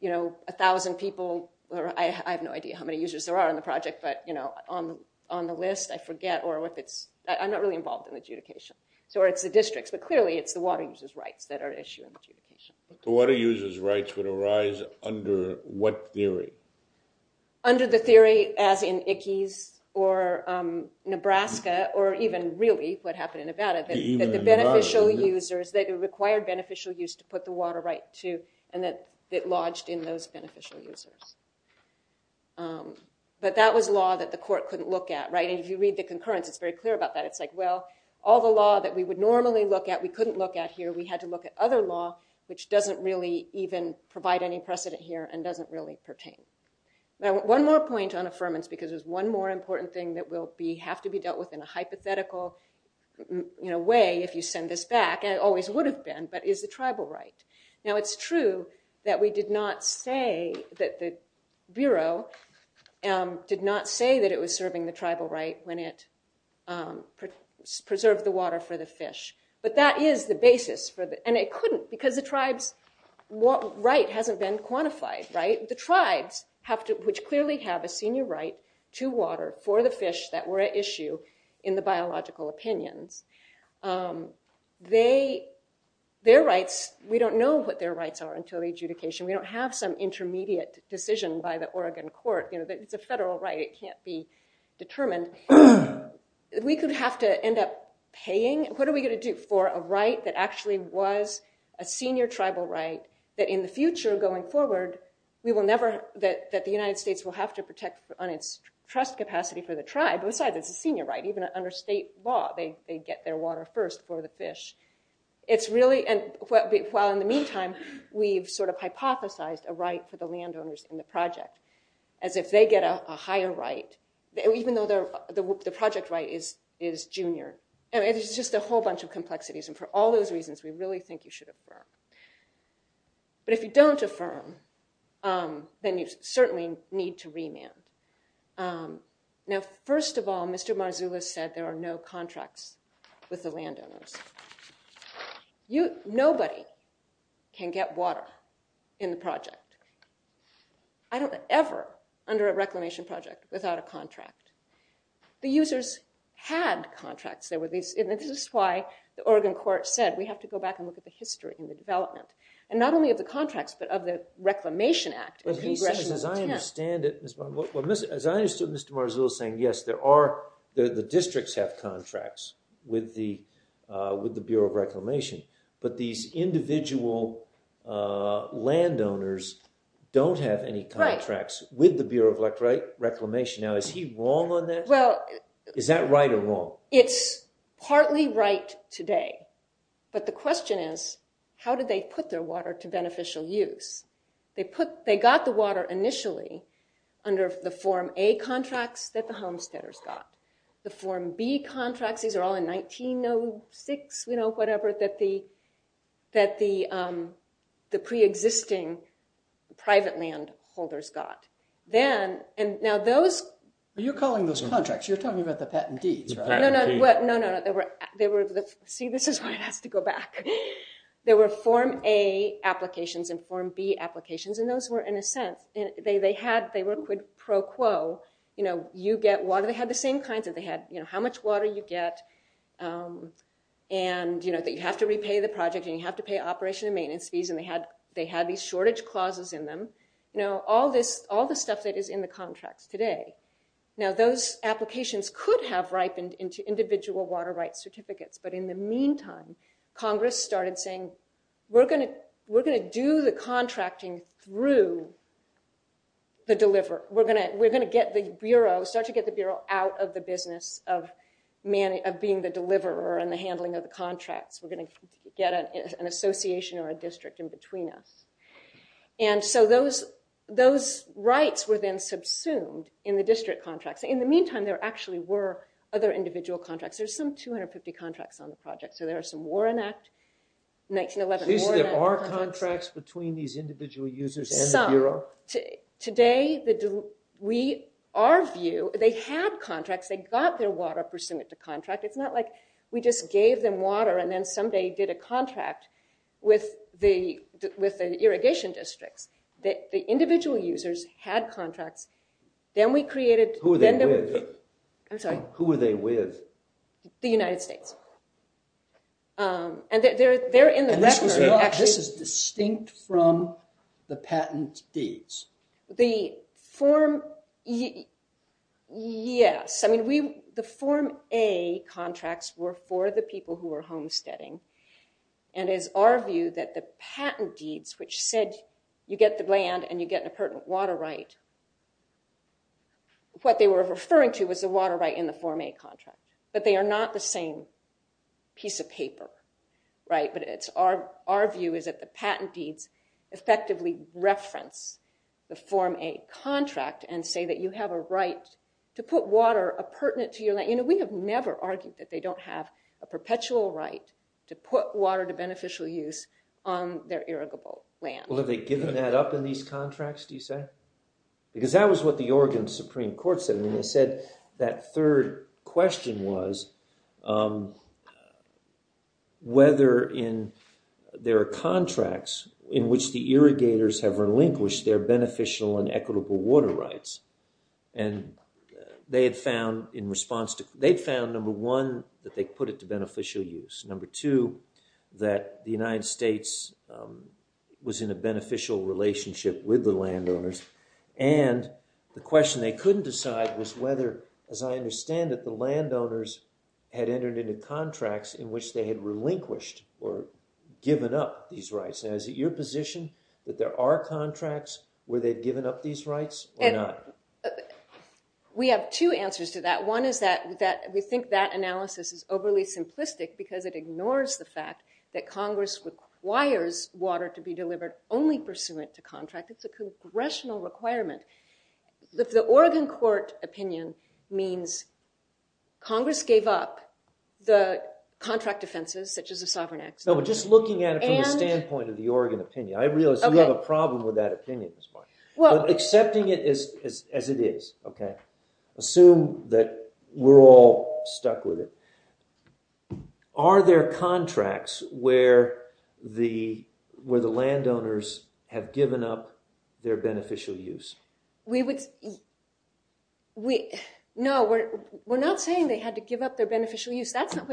you know, a thousand people, or I have no idea how many users there are on the project, but, you know, on the list, I forget. I'm not really involved in adjudication. So it's the districts, but clearly it's the water users' rights that are at issue in adjudication. The water users' rights would arise under what theory? Under the theory, as in Ickes, or Nebraska, or even, really, what happened in Nevada, that the beneficial users, that it required beneficial users to put the water rights to, and that it lodged in those beneficial users. But that was law that the court couldn't look at, right? And if you read the concurrence, it's very clear about that. It's like, well, all the law that we would normally look at, we couldn't look at here, we had to look at other law, which doesn't really even provide any precedent here, and doesn't really pertain. Now, one more point on affirmance, because it's one more important thing that will have to be dealt with in a hypothetical way, if you send this back, and it always would have been, Now, it's true that we did not say that the Bureau did not say that it was serving the tribal right when it preserved the water for the fish. But that is the basis, and it couldn't, because the tribe's right hasn't been quantified, right? The tribes, which clearly have a senior right to water for the fish that were at issue in the biological opinion, their rights, we don't know what their rights are until the adjudication, we don't have some intermediate decision by the Oregon court, the federal right, it can't be determined. We could have to end up paying, what are we gonna do for a right that actually was a senior tribal right, that in the future, going forward, we will never, that the United States will have to protect on its trust capacity for the tribe, besides it's a senior right, even under state law, they get their water first for the fish. It's really, and while in the meantime, we've sort of hypothesized a right for the landowners in the project, as if they get a higher right, even though the project right is junior, and it's just a whole bunch of complexities, and for all those reasons, we really think you should affirm. But if you don't affirm, then you certainly need to remand. Now, first of all, Mr. Marzullo said there are no contracts with the landowners. Nobody can get water in the project. I don't ever, under a reclamation project, without a contract. The users had contracts. This is why the Oregon court said, we have to go back and look at the history and the development, and not only of the contracts, but of the Reclamation Act. As I understand it, as I understood Mr. Marzullo saying, yes, there are, the districts have contracts with the Bureau of Reclamation, but these individual landowners don't have any contracts with the Bureau of Reclamation. Now, is he wrong on this? Is that right or wrong? It's partly right today, but the question is, how did they put their water to beneficial use? They got the water initially under the Form A contracts that the homesteaders got. The Form B contracts, these are all in 1906, whatever, that the pre-existing private landholders got. You're calling those contracts. You're talking about the patentees. No, no. See, this is why I have to go back. There were Form A applications and Form B applications, and those were, in a sense, they were pro quo. You get water. They had the same kinds. They had how much water you get, and that you have to repay the project, and you have to pay operation and maintenance fees, and they had these shortage clauses in them. All this stuff that is in the contract today. Now, those applications could have ripened into individual water rights certificates, but in the meantime, Congress started saying, we're going to do the contracting through the deliverer. We're going to get the Bureau, out of the business of being the deliverer and the handling of the contracts. We're going to get an association or a district in between us, and so those rights were then subsumed in the district contracts. In the meantime, there actually were other individual contracts. There's some 250 contracts on the project, so there are some Warren Act, 1911 Warren Act. Is there are contracts between these individual users and the Bureau? Today, our view, they have contracts. They got their water pursuant to contract. It's not like we just gave them water and then someday did a contract with the irrigation district. The individual users had contracts. Then we created- Who were they with? I'm sorry. Who were they with? The United States. They're in the- This is distinct from the patent deeds. The form, yes. I mean, the Form A contracts were for the people who were homesteading, and it's our view that the patent deeds, which said you get the land and you get an appurtenant water right, what they were referring to was the water right in the Form A contract, but they are not the same piece of paper. Our view is that the patent deeds effectively reference the Form A contract and say that you have a right to put water appurtenant to your land. We have never argued that they don't have a perpetual right to put water to beneficial use on their irrigable land. Were they giving that up in these contracts, do you say? Because that was what the Oregon Supreme Court said. They said that third question was whether in their contracts in which the irrigators have relinquished their beneficial and equitable water rights, and they had found in response to- They found, number one, that they put it to beneficial use. Number two, that the United States was in a beneficial relationship with the landowners, and the question they couldn't decide was whether, as I understand it, the landowners had entered into contracts in which they had relinquished or given up these rights. Now, is it your position that there are contracts where they've given up these rights or not? We have two answers to that. One is that we think that analysis is overly simplistic because it ignores the fact that Congress requires water to be delivered only pursuant to contract. It's a congressional requirement. The Oregon court opinion means Congress gave up the contract offenses, such as the Sovereign Act. Just looking at it from the standpoint of the Oregon opinion, I realize we have a problem with that opinion this morning. Accepting it as it is, assume that we're all stuck with it. Are there contracts where the landowners have given up their beneficial use? We would... No, we're not saying they had to give up their beneficial use. That's not...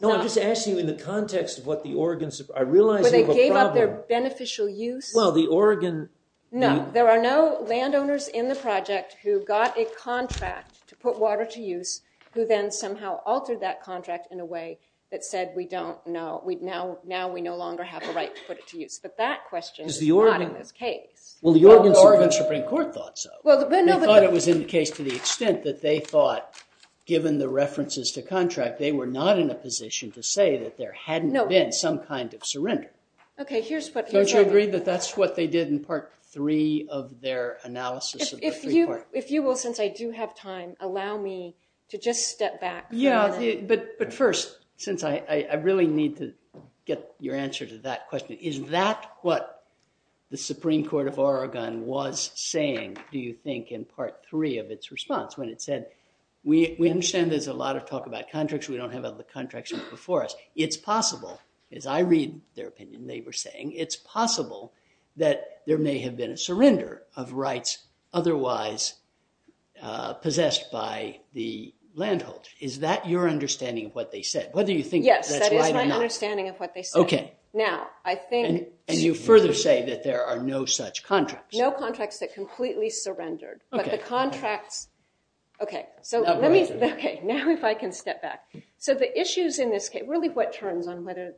No, I'm just asking you in the context of what the Oregon... I realize we have a problem... Where they gave up their beneficial use? Well, the Oregon... No, there are no landowners in the project who got a contract to put water to use who then somehow altered that contract in a way that said, we don't know, now we no longer have the right to put it to use. But that question is not okay. Well, the Oregon Supreme Court thought so. They thought it was in the case to the extent that they thought, given the references to contract, they were not in a position to say that there hadn't been some kind of surrender. Okay, here's what... Don't you agree that that's what they did If you will, since I do have time, allow me to just step back for a minute. But first, since I really need to get your answer to that question, is that what the Supreme Court of Oregon was saying, do you think in part three of its response when it said, we understand there's a lot of talk about contracts, we don't have other contracts before us. It's possible, as I read their opinion they were saying, it's possible that there may have been a surrender of rights otherwise possessed by the landholders. Is that your understanding of what they said? Yes, that is my understanding of what they said. Now, I think... And you further say that there are no such contracts. No contracts that completely surrendered. But the contract... Okay, so let me... Okay, now if I can step back. So the issues in this case, really what turns on whether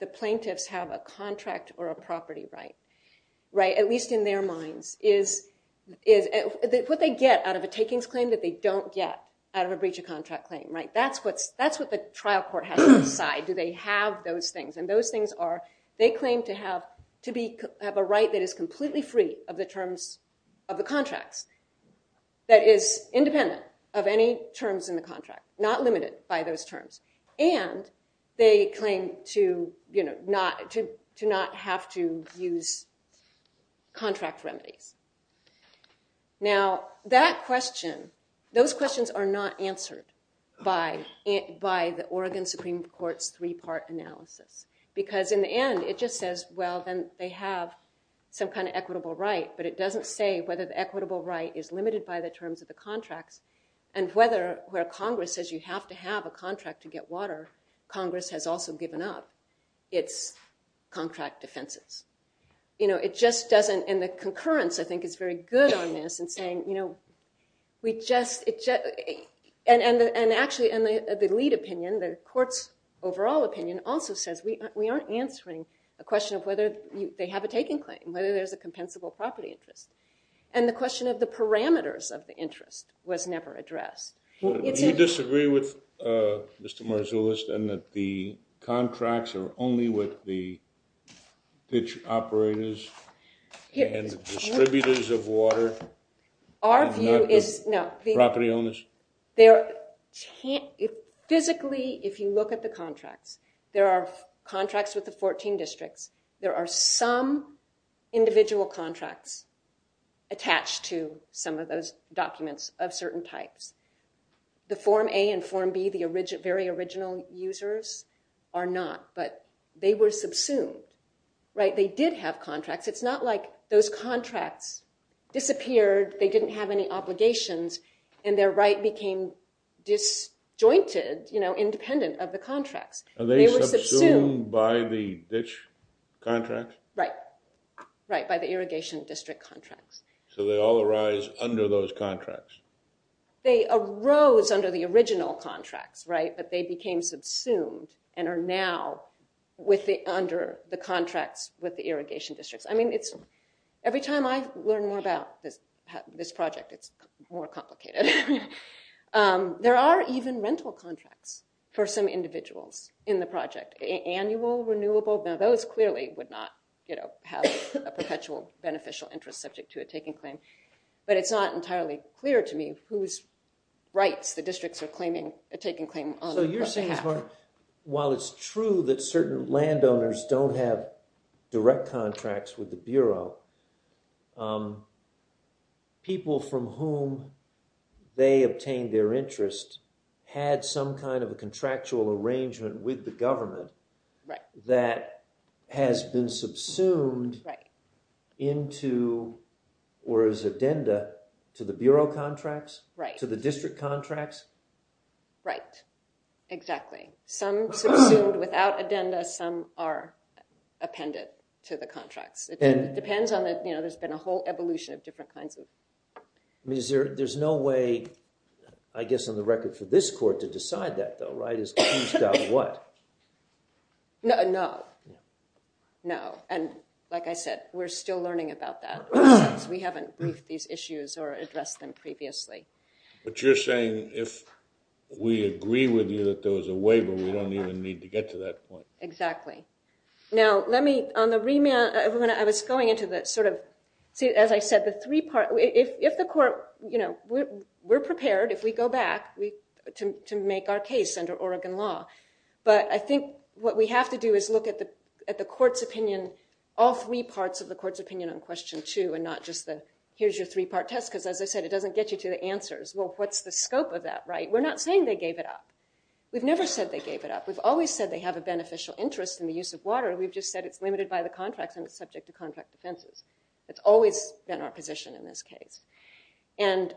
the plaintiffs have a contract or a property right, at least in their mind, is what they get out of a takings claim or something that they don't get out of a breach of contract claim, right? That's what the trial court has to decide. Do they have those things? And those things are, they claim to have a right that is completely free of the terms of the contract that is independent of any terms in the contract, not limited by those terms. And they claim to not have to use contract remedy. Now, that question, those questions are not answered by the Oregon Supreme Court's three-part analysis. Because in the end, it just says, well, then they have some kind of equitable right, but it doesn't say whether the equitable right is limited by the terms of the contract and whether where Congress says you have to have a contract to get water, Congress has also given up its contract defenses. You know, it just doesn't... The concurrence, I think, is very good on this in saying, you know, we just... And actually, in the lead opinion, the court's overall opinion also says we aren't answering the question of whether they have a taking claim, whether there's a compensable property interest. And the question of the parameters of the interest was never addressed. Do you disagree with Mr. Marzullo's and that the contracts are only with the pitch operators and distributors of water? Our view is... No. Property owners? Physically, if you look at the contract, there are contracts with the 14 districts. There are some individual contracts attached to some of those documents of certain type. The Form A and Form B, the very original users, are not. But they were subsumed, right? They did have contracts. It's not like those contracts disappeared, they didn't have any obligations, and their right became disjointed, you know, independent of the contract. Are they subsumed by the ditch contract? Right. Right, by the irrigation district contract. So they all arise under those contracts? They arose under the original contract, right? But they became subsumed and are now under the contract with the irrigation districts. I mean, every time I learn more about this project, it's more complicated. There are even rental contracts for some individuals in the project, annual, renewable. Now, those clearly would not, you know, have a perpetual beneficial interest subject to a taking claim. But it's not entirely clear to me whose rights the districts are claiming a taking claim on. So you're saying, while it's true that certain landowners don't have direct contracts with the Bureau, people from whom they obtained their interest had some kind of a contractual arrangement with the government that has been subsumed into, or is addenda to the Bureau contracts, to the district contracts? Right. Exactly. Some are subsumed without addenda, some are appended to the contracts. It depends on, you know, there's been a whole evolution of different kinds of... I mean, is there, there's no way, I guess on the record for this court to decide that though, right? It's got what? No, no. No. And like I said, we're still learning about that. We haven't moved these issues, or it's less than previously. But you're saying if we agree with you that there was a waiver, we don't even need to get to that point. Exactly. Now, let me, on the remand, I was going into the sort of, as I said, the three-part, if the court, you know, we're prepared if we go back to make our case under Oregon law. But I think what we have to do is look at the court's opinion, all three parts of the court's opinion on question two, and not just the, here's your three-part test, because as I said, it doesn't get you to the answers. Well, what's the scope of that, right? We're not saying they gave it up. We've never said they gave it up. We've always said they have a beneficial interest in the use of water. We've just said it's limited by the contract and it's subject to contract offenses. It's always been our position in this case. And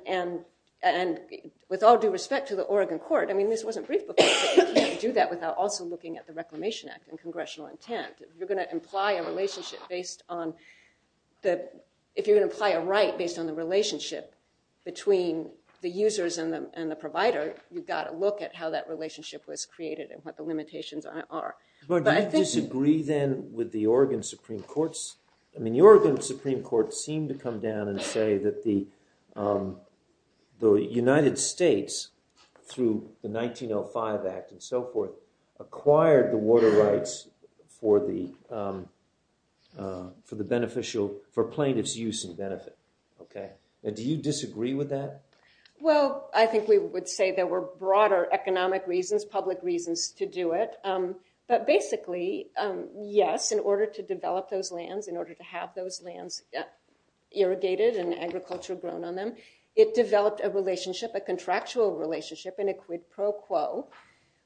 with all due respect to the Oregon court, I mean, this wasn't brief before. You can't do that without also looking at the Reclamation Act and congressional intent. You're going to imply a relationship based on the, if you're going to imply a right based on the relationship between the users and the provider, you've got to look at how that relationship was created and what the limitations are. But I think... Do you disagree then with the Oregon Supreme Court's, I mean, the Oregon Supreme Court seemed to come down and say that the United States, through the 1905 Act and so forth, acquired the water rights for the beneficial, for plaintiff's use and benefit. Do you disagree with that? Well, I think we would say there were broader economic reasons, public reasons to do it. But basically, yes, in order to develop those lands, in order to have those lands irrigated and agriculture grown on them, it developed a relationship, a contractual relationship in a quid pro quo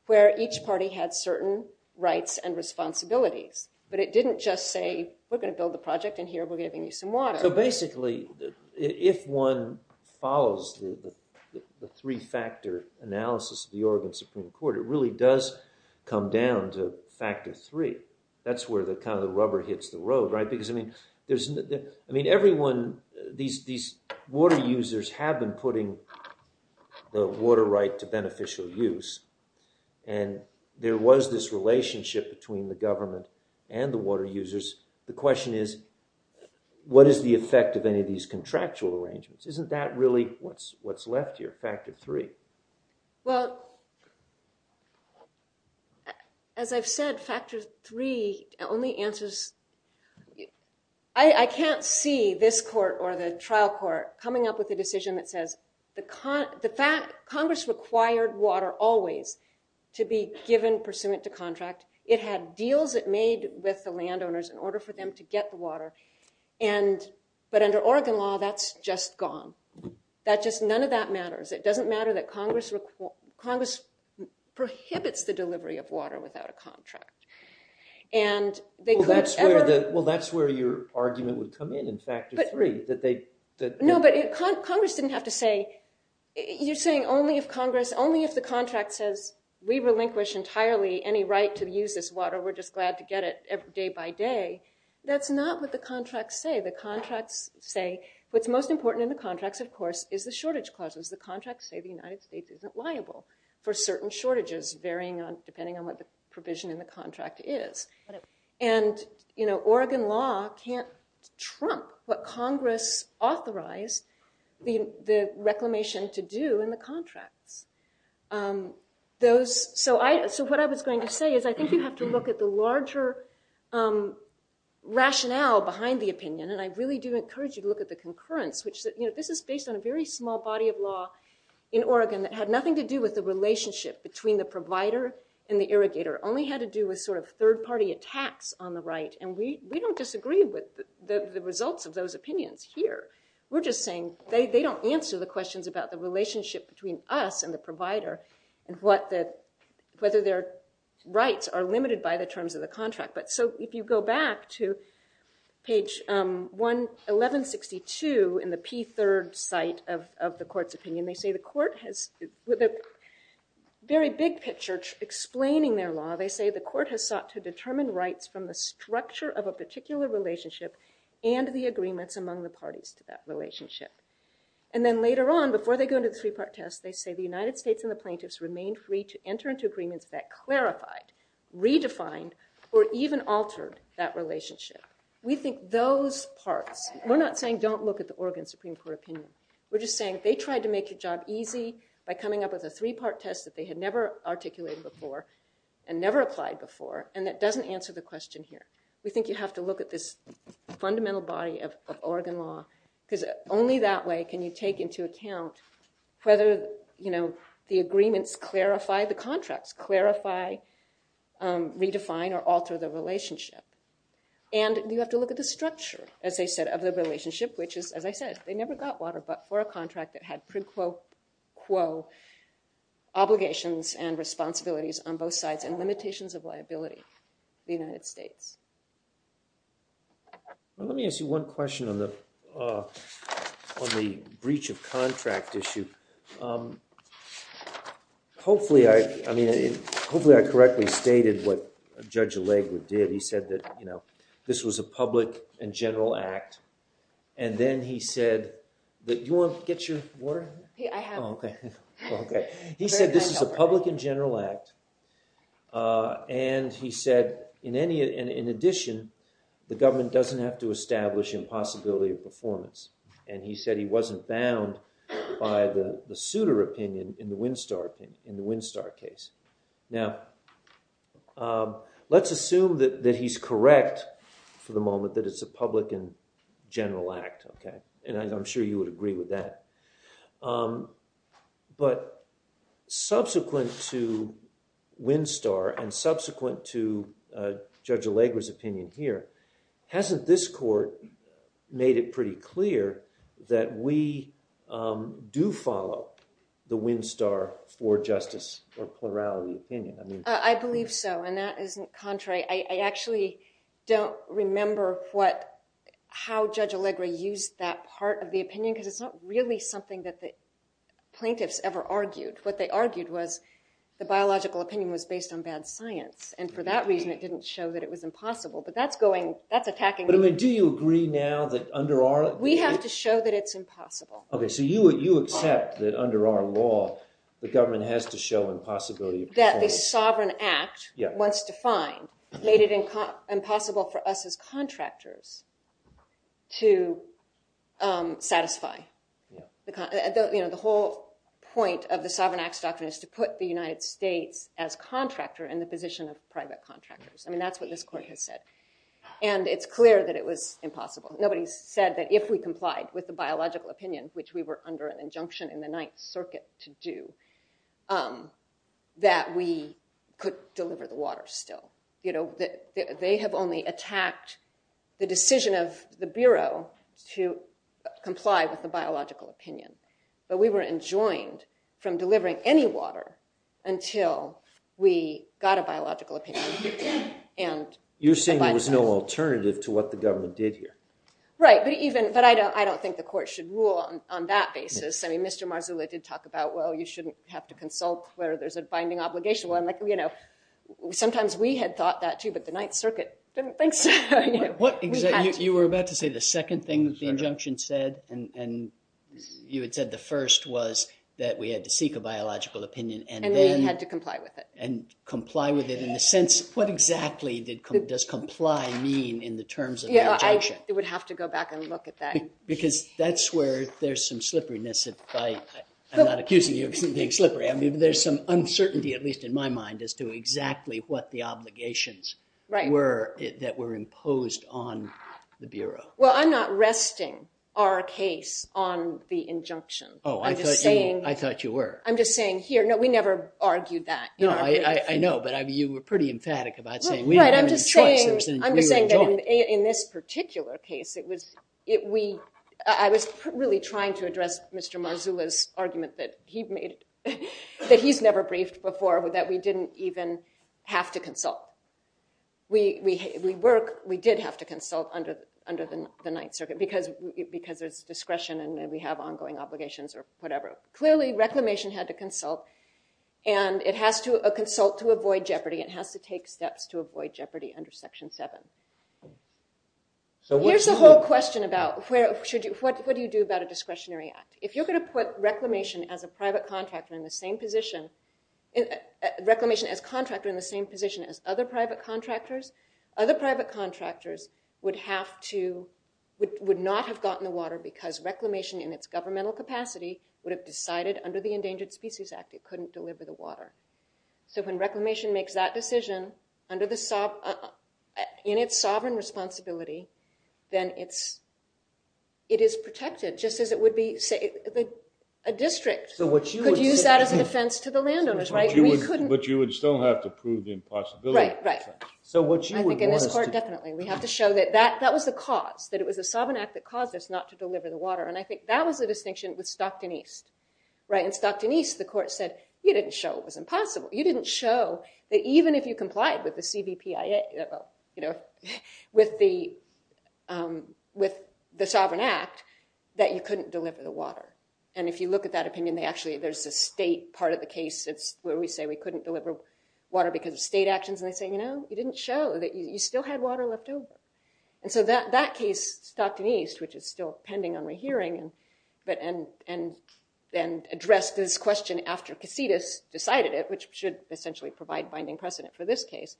where each party had certain rights and responsibilities. But it didn't just say, we're going to build a project in here, we're giving you some water. So basically, if one follows through the three-factor analysis of the Oregon Supreme Court, it really does come down to factor three. That's where the kind of rubber hits the road, right? Because, I mean, everyone, these water users have been putting the water right to beneficial use. And there was this relationship between the government and the water users. The question is, what is the effect of any of these contractual arrangements? Isn't that really what's left here, factor three? Well, as I've said, factor three only answers, I can't see this court or the trial court coming up with a decision that says, the fact, Congress required water always to be given pursuant to contract it had deals it made with the landowners in order for them to get the water. But under Oregon law, that's just gone. None of that matters. It doesn't matter that Congress prohibits the delivery of water without a contract. Well, that's where your argument would come in, in factor three. No, but Congress didn't have to say, you're saying only if Congress, only if the contract says, we relinquish entirely any right to use this water. We're just glad to get it day by day. That's not what the contracts say. The contracts say, what's most important in the contracts, of course, is the shortage clauses. The contracts say the United States isn't liable for certain shortages, depending on what the provision in the contract is. authorized the reclamation to do in the contract. So what I was going to say is, I think you have to look at the larger rationale behind the opinion. And I really do encourage you to look at the concurrence. This is based on a very small body of law in Oregon that had nothing to do with the relationship between the provider and the irrigator. It only had to do with third party attacks on the right. And we don't disagree with the results of those opinions here. We're just saying, they don't answer the questions about the relationship between us and the provider and whether their rights are limited by the terms of the contract. But so if you go back to page 1162 in the P3rd site of the court's opinion, they say the court has a very big picture explaining their law. They say the court has sought to determine rights from the structure of a particular relationship and the agreements among the parties to that relationship. And then later on, before they go to the three part test, they say the United States and the plaintiffs remain free to enter into agreements that clarified, redefined, or even altered that relationship. We think those parts, we're not saying don't look at the Oregon Supreme Court opinion. We're just saying they tried to make the job easy by coming up with a three part test that they had never articulated before and never applied before. And that doesn't answer the question here. We think you have to look at this fundamental body of Oregon law because only that way can you take into account whether the agreements clarify the contracts, clarify, redefine, or alter the relationship. And you have to look at the structure, as I said, of the relationship, which is, as I said, they never got water but for a contract that had pre-quote quo obligations and responsibilities on both sides and limitations of liability in the United States. Let me ask you one question on the breach of contract issue. Hopefully I correctly stated what Judge Alegre did. He said that this was a public and general act. And then he said that you want to get your water? Yeah, I have. Oh, OK. He said this is a public and general act. And he said, in addition, the government doesn't have to establish impossibility of performance. And he said he wasn't bound by the suitor opinion in the Winstar case. Now, let's assume that he's correct for the moment that it's a public and general act. And I'm sure you would agree with that. But subsequent to Winstar and subsequent to Judge Alegre's opinion here, hasn't this court made it pretty clear that we do follow the Winstar for justice or plurality opinion? I mean, I believe so. And that isn't contrary. I actually don't remember how Judge Alegre used that part of the opinion because it's not really something that the plaintiffs ever argued. What they argued was the biological opinion was based on bad science. And for that reason, it didn't show that it was impossible. But that's attacking me. But I mean, do you agree now that under our law? We have to show that it's impossible. OK, so you accept that under our law, the government has to show impossibility of performance. That the sovereign act was defined, made it impossible for us as contractors to satisfy. The whole point of the sovereign acts doctrine is to put the United States as contractor in the position of private contractors. I mean, that's what this court has said. And it's clear that it was impossible. Nobody said that if we complied with the biological opinion, which we were under an injunction in the Ninth Circuit to do, that we could deliver the water still. They have only attacked the decision of the Bureau to comply with the biological opinion. But we were enjoined from delivering any water until we got a biological opinion. You're saying there was no alternative to what the government did here. Right, but I don't think the court should rule on that basis. I mean, Mr. Marzullo did talk about, well, you shouldn't have to consult where there's a binding obligation. Well, sometimes we had thought that too, but the Ninth Circuit didn't think so. You were about to say the second thing the injunction said, and you had said the first was that we had to seek a biological opinion. And we had to comply with it. And comply with it in the sense, what exactly does comply mean in the terms of the injunction? I would have to go back and look at that. Because that's where there's some slipperiness. I'm not accusing you of being slippery. I mean, there's some uncertainty, at least in my mind, as to exactly what the obligations were that were imposed on the Bureau. Well, I'm not resting our case on the injunction. Oh, I thought you were. I'm just saying here, no, we never argued that. No, I know, but you were pretty emphatic about saying we didn't have any charges against the Bureau. I'm just saying that in this particular case, I was really trying to address Mr. Marzullo's argument that he's never braced before, that we didn't even have to consult. We did have to consult under the Ninth Circuit because there's discretion and then we have ongoing obligations or whatever. Clearly, reclamation had to consult. And it has to consult to avoid jeopardy. It has to take steps to avoid jeopardy under Section 7. Here's the whole question about what do you do about a discretionary act? If you're going to put reclamation as a private contractor in the same position, reclamation as contractor in the same position as other private contractors, other private contractors would have to, would not have gotten the water because reclamation in its governmental capacity would have decided under the Endangered Species Act it couldn't deliver the water. So when reclamation makes that decision in its sovereign responsibility, then it is protected, just as it would be a district could use that as a defense to the landowners. But you would still have to prove the impossibility. Right, right. I think in this court, definitely, we have to show that that was the cause, that it was a sovereign act that caused us not to deliver the water. And I think that was the distinction with Stockton East. In Stockton East, the court said, you didn't show it was impossible. You didn't show that even if you complied with the CBPIA, with the sovereign act, that you couldn't deliver the water. And if you look at that opinion, actually there's the state part of the case that's where we say we couldn't deliver water because of state actions. And they say, you know, you didn't show, that you still had water left over. And so that case, Stockton East, which is still pending on the hearing, and addressed this question after Casitas decided it, which should essentially provide binding precedent for this case.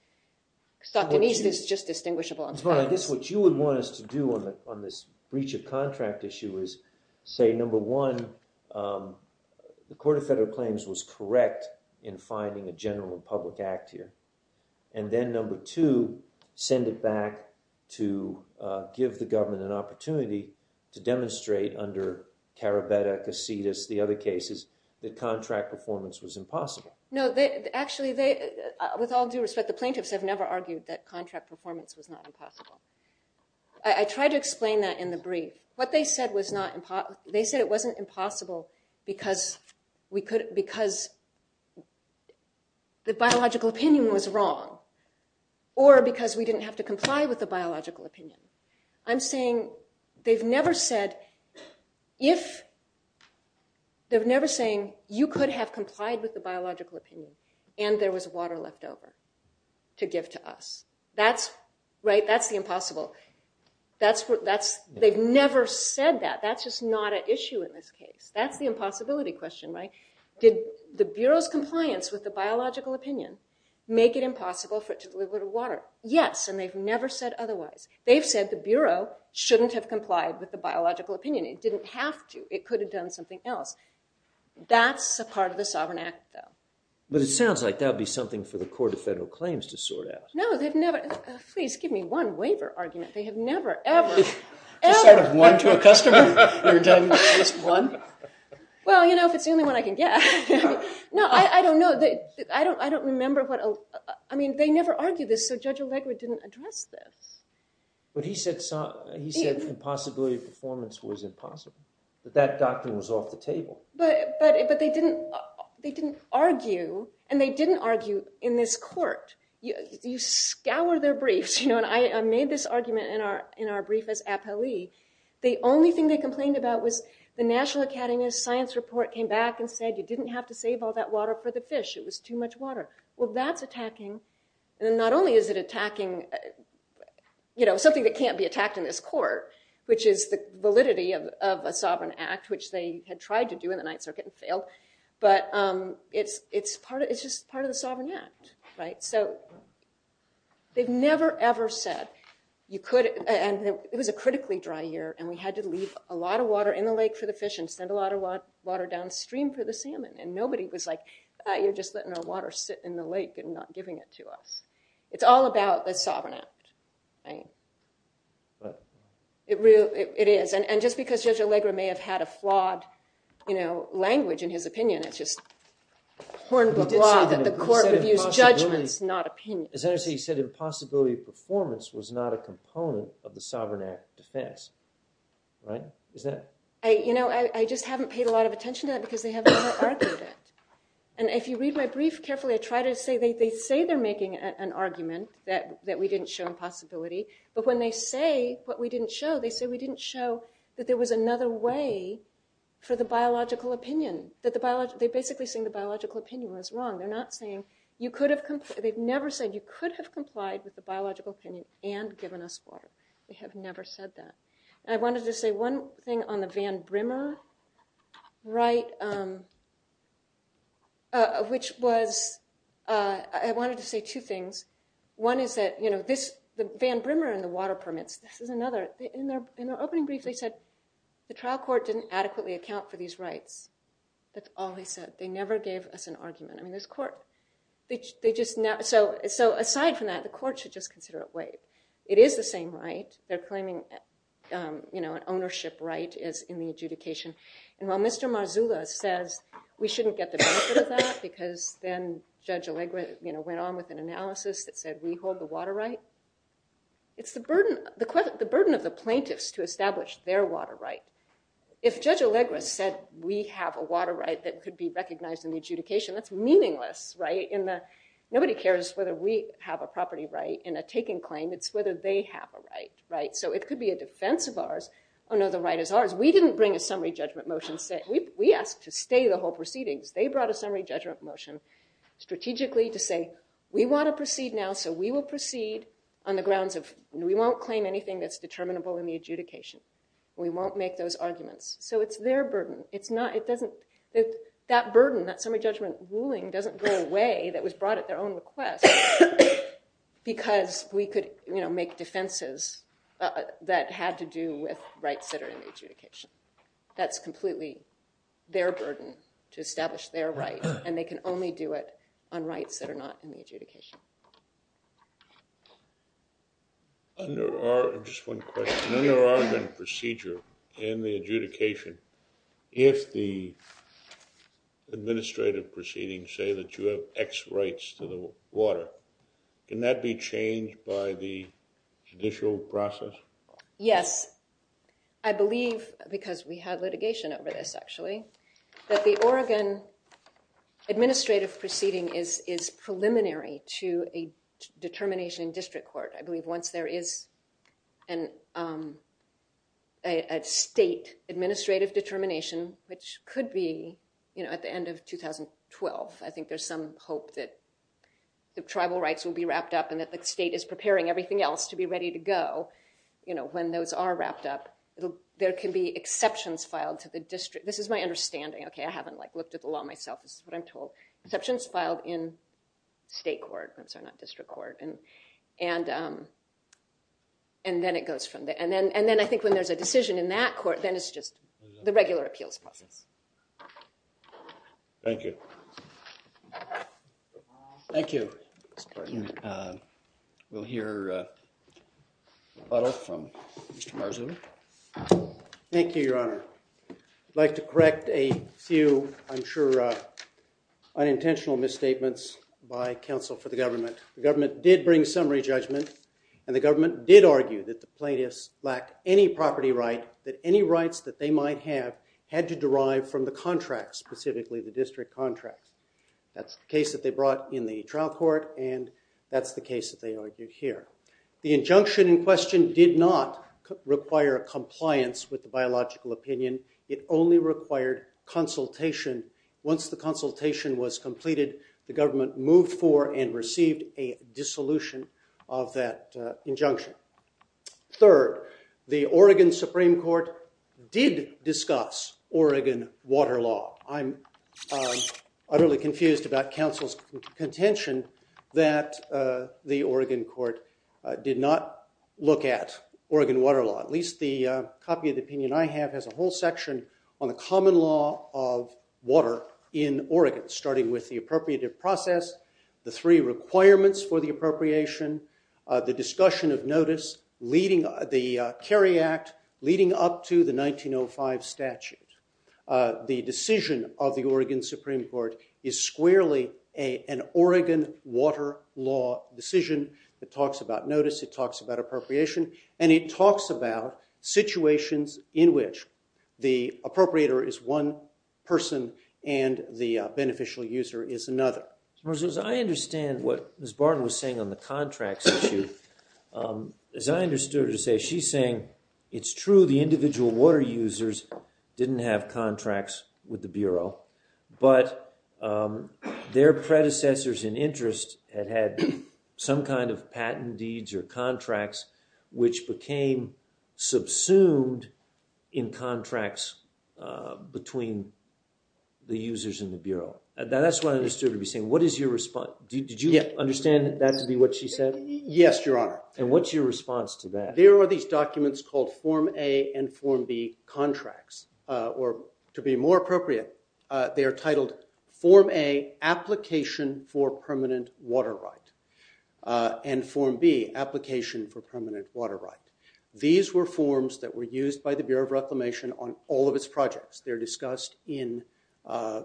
Stockton East is just distinguishable. I guess what you would want us to do on this breach of contract issue is say number one, the court of federal claims was correct in finding a general public act here. And then number two, send it back to give the government an opportunity to demonstrate under Carabetta, Casitas, the other cases, that contract performance was impossible. No, actually, with all due respect, the plaintiffs have never argued that contract performance was not impossible. I tried to explain that in the brief. What they said was not, they said it wasn't impossible because the biological opinion was wrong, or because we didn't have to comply with the biological opinion. I'm saying they've never said, if, they're never saying, you could have complied with the biological opinion, and there was water left over to give to us. That's, right, that's the impossible. They've never said that. That's just not an issue in this case. That's the impossibility question, right? Did the Bureau's compliance with the biological opinion make it impossible for it to deliver the water? Yes, and they've never said otherwise. They've said the Bureau shouldn't have complied with the biological opinion. It didn't have to. It could have done something else. That's a part of the Sovereign Act, though. But it sounds like that would be something for the court of federal claims to sort out. No, they've never, please give me one waiver argument. They have never, ever, ever. You thought of one to a customer? They're done with just one? Well, you know, if it's the only one I can get. No, I don't know. I don't remember what, I mean, they never argued this, so Judge Allegra didn't address this. But he said impossibility of performance was impossible. But that document was off the table. But they didn't argue, and they didn't argue in this court. You scour their briefs, you know, and I made this argument in our brief as appellee. The only thing they complained about was the National Academy of Science report came back and said you didn't have to save all that water for the fish. It was too much water. Well, that's attacking, and not only is it attacking, you know, something that can't be attacked in this court, which is the validity of a Sovereign Act, which they had tried to do in the Ninth Circuit and failed, but it's just part of the Sovereign Act, right? So they've never, ever said you could, and it was a critically dry year, and we had to leave a lot of water in the lake for the fish and send a lot of water downstream for the salmon, and nobody was like, you're just letting our water sit in the lake and not giving it to us. It's all about a Sovereign Act thing. It is, and just because Judge Allegra may have had a flawed, you know, language in his opinion, but the court refused judgment, not opinion. As I understand, you said impossibility of performance was not a component of the Sovereign Act defense, right? You know, I just haven't paid a lot of attention to that because they haven't argued it, and if you read my brief carefully, they say they're making an argument that we didn't show impossibility, but when they say what we didn't show, they say we didn't show that there was another way for the biological opinion, that they're basically saying the biological opinion was wrong. They're not saying, you could have, they've never said you could have complied with the biological opinion and given us water. They have never said that. I wanted to say one thing on the Van Brimmer right, which was, I wanted to say two things. One is that, you know, this, the Van Brimmer and the water permit, this is another, in the opening brief they said the trial court didn't adequately account for these rights. That's all they said. They never gave us an argument in this court. They just, so aside from that, the court should just consider it right. It is the same right. They're claiming, you know, an ownership right is in the adjudication, and while Mr. Marzullo said we shouldn't get the benefit of that because then Judge Allegra, you know, went on with an analysis that said we hold the water right, it's the burden, the burden of the plaintiffs to establish their water right. If Judge Allegra said we have a water right that could be recognized in the adjudication, that's meaningless, right? Nobody cares whether we have a property right in a taking claim. It's whether they have a right, right? So it could be a defense of ours. Oh no, the right is ours. We didn't bring a summary judgment motion. We asked to stay the whole proceeding. They brought a summary judgment motion strategically to say we want to proceed now, so we will proceed on the grounds of, we won't claim anything that's determinable in the adjudication. We won't make those arguments. So it's their burden. That burden, that summary judgment ruling doesn't go away that was brought at their own request because we could make defenses that had to do with rights that are in the adjudication. That's completely their burden to establish their rights, and they can only do it on rights that are not in the adjudication. Under our, just one question. Under our procedure in the adjudication, if the administrative proceedings say that you have X rights to the water, can that be changed by the judicial process? Yes. I believe, because we have litigation over this actually, that the Oregon administrative proceeding is preliminary to a determination in district court. I believe once there is a state administrative determination, which could be at the end of 2012, I think there's some hope that the tribal rights will be wrapped up and that the state is preparing everything else to be ready to go when those are wrapped up. There can be exceptions filed to the district. This is my understanding. Okay, I haven't looked at the law myself. This is what I'm told. Exceptions filed in state court, not district court. And then it goes from there. And then I think when there's a decision in that court, then it's just the regular appeals process. Thank you. Thank you. We'll hear a follow-up from Mr. Marzullo. Thank you, Your Honor. I'd like to correct a few I'm sure unintentional misstatements by counsel for the government. The government did bring summary judgment, and the government did argue that the plaintiffs lacked any property right, that any rights that they might have had to derive from the contract, specifically the district contract. That's the case that they brought in the trial court, and that's the case that they argued here. The injunction in question did not require compliance with the biological opinion. It only required consultation. Once the consultation was completed, the government moved for and received a dissolution of that injunction. Third, the Oregon Supreme Court did discuss Oregon Water Law. I'm utterly confused about counsel's contention that the Oregon Court did not look at Oregon Water Law. At least the copy of the opinion I have has a whole section on the common law of water in Oregon, starting with the appropriative process, the three requirements for the appropriation, the discussion of notice leading the Cary Act, leading up to the 1905 statute. The decision of the Oregon Supreme Court is squarely an Oregon Water Law decision. It talks about notice, it talks about appropriation, and it talks about situations in which the appropriator is one person and the beneficial user is another. As I understand what Ms. Barton was saying on the contracts issue, as I understood her to say, she's saying it's true the individual water users didn't have contracts with the Bureau, but their predecessors in interest had had some kind of patent deeds or contracts which became subsumed in contracts between the users and the Bureau. Now that's what I understood her to be saying. What is your response? Did you understand that to be what she said? Yes, Your Honor. And what's your response to that? There are these documents called Form A and Form B contracts. To be more appropriate, they are titled Form A, Application for Permanent Water Rights, and Form B, Application for Permanent Water Rights. These were forms that were used by the Bureau of Reclamation on all of its projects. They're discussed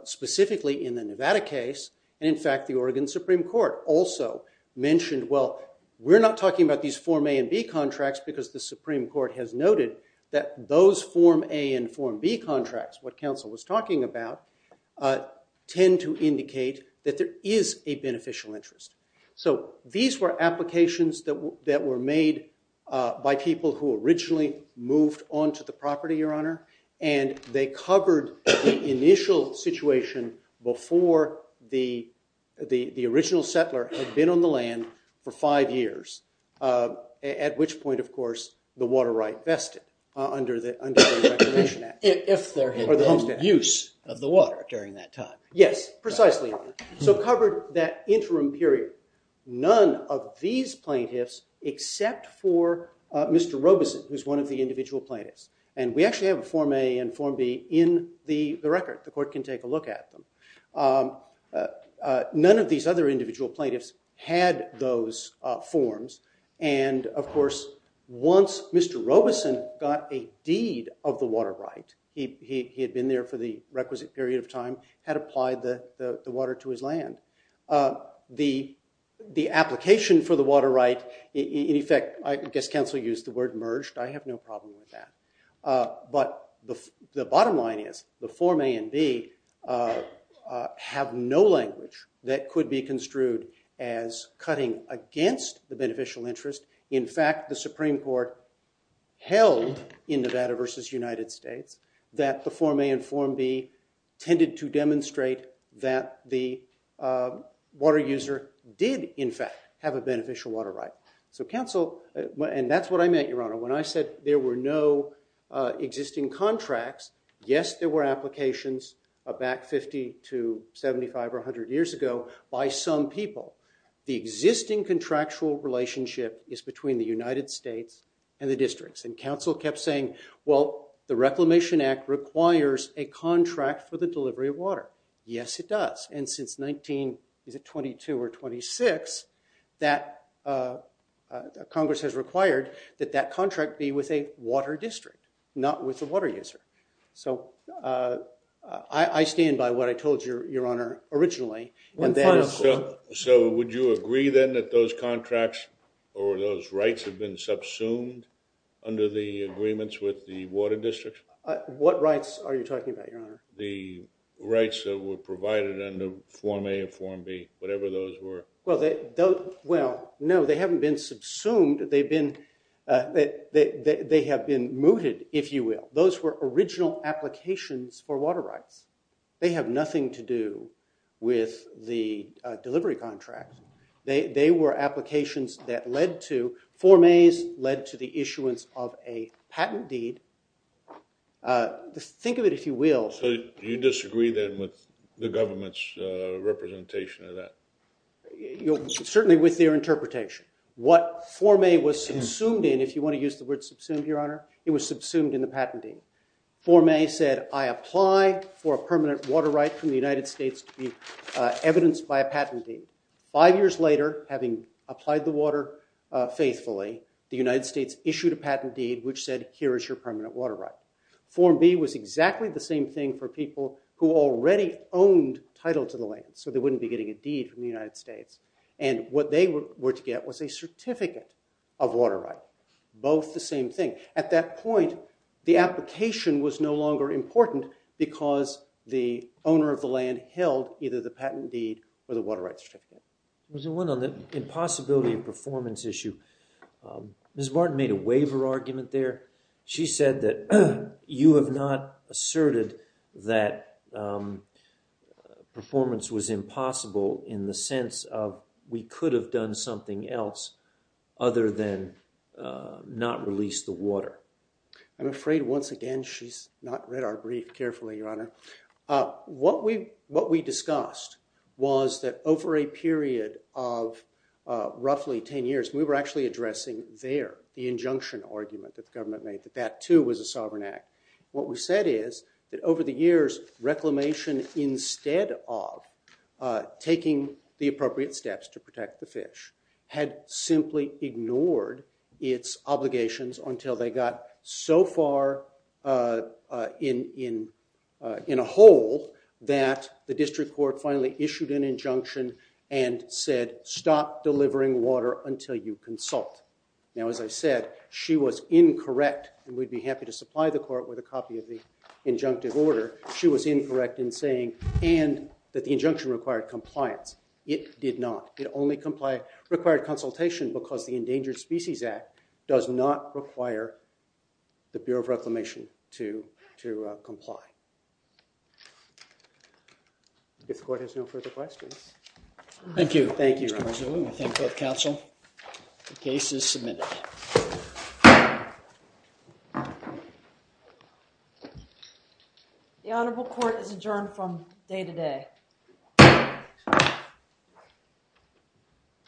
specifically in the Nevada case. In fact, the Oregon Supreme Court also mentioned, well, we're not talking about these Form A and B contracts because the Supreme Court has noted that those Form A and Form B contracts, what counsel was talking about, tend to indicate that there is a So these were applications that were made by people who originally moved onto the property, Your Honor, and they covered the initial situation before the original settler had been on the land for five years, at which point, of course, the water right vested under the Reclamation Act. If there had been use of the water during that time. Yes, precisely. So they covered that interim period. None of these plaintiffs except for Mr. Robeson, who's one of the individual plaintiffs, and we actually have a Form A and Form B in the record. The court can take a look at them. None of these other individual plaintiffs had those forms, and of course, once Mr. Robeson got a deed of the water right, he had been there for the requisite period of time, had applied the water to his land. The application for the water right, in effect, I guess counsel used the word merged. I have no problem with that. But the bottom line is, the Form A and B have no language that could be construed as cutting against the beneficial interest. In fact, the Supreme Court held in Nevada versus United States that the demonstrate that the water user did, in fact, have a beneficial water right. So counsel, and that's what I meant, Your Honor. When I said there were no existing contracts, yes, there were applications back 50 to 75 or 100 years ago by some people. The existing contractual relationship is between the United States and the districts, and counsel kept saying, well, the Reclamation Act requires a contract for the delivery of water. Yes, it does. And since 1922 or 26, that Congress has required that that contract be with a water district, not with the water user. So I stand by what I told you, Your Honor, originally. So would you agree then that those contracts or those rights have been subsumed under the agreements with the water district? What rights are you talking about, Your Honor? The rights that were provided under Form A and Form B, whatever those were. Well, no, they haven't been subsumed. They've been they have been mooted, if you will. Those were original applications for water rights. They have nothing to do with the delivery contract. They were applications that led to Form A's led to the issuance of a patent deed. Think of it if you will. So you disagree then with the government's representation of that? Certainly with their interpretation. What Form A was subsumed in, if you want to use the word subsumed, Your Honor, it was subsumed in the patent deed. Form A said, I apply for a permanent water right from the United States to be evidenced by a patent deed. Five years later, having applied the water faithfully, the United States issued a patent deed which said, here is your permanent water right. Form B was exactly the same thing for people who already owned title to the land, so they wouldn't be getting a deed from the United States. What they were to get was a certificate of water rights. Both the same thing. At that point, the application was no longer important because the owner of the land held either the patent deed or the water rights certificate. There was one on the impossibility of performance issue. Ms. Martin made a waiver argument there. She said that you have not asserted that performance was impossible in the sense of we could have done something else other than not release the water. I'm afraid, once again, she's not read our brief carefully, Your Honor. What we discussed was that over a period of roughly 10 years, we were actually addressing there the injunction argument that the government made that that, too, was a sovereign act. What we said is that over the years, reclamation instead of taking the appropriate steps to protect the fish had simply ignored its obligations until they got so far in a hole that the district court finally issued an injunction and said stop delivering water until you consult. Now, as I said, she was incorrect, and we'd be happy to supply the court with a copy of the injunctive order. She was incorrect in saying, and that the injunction required compliance. It did not. It only required consultation because the Endangered Species Act does not require the Bureau of Reclamation to comply. If the court has no further questions. Thank you. Thank you, Your Honor. Thank you, Counsel. The case is submitted. The Honorable Court is adjourned from day to day.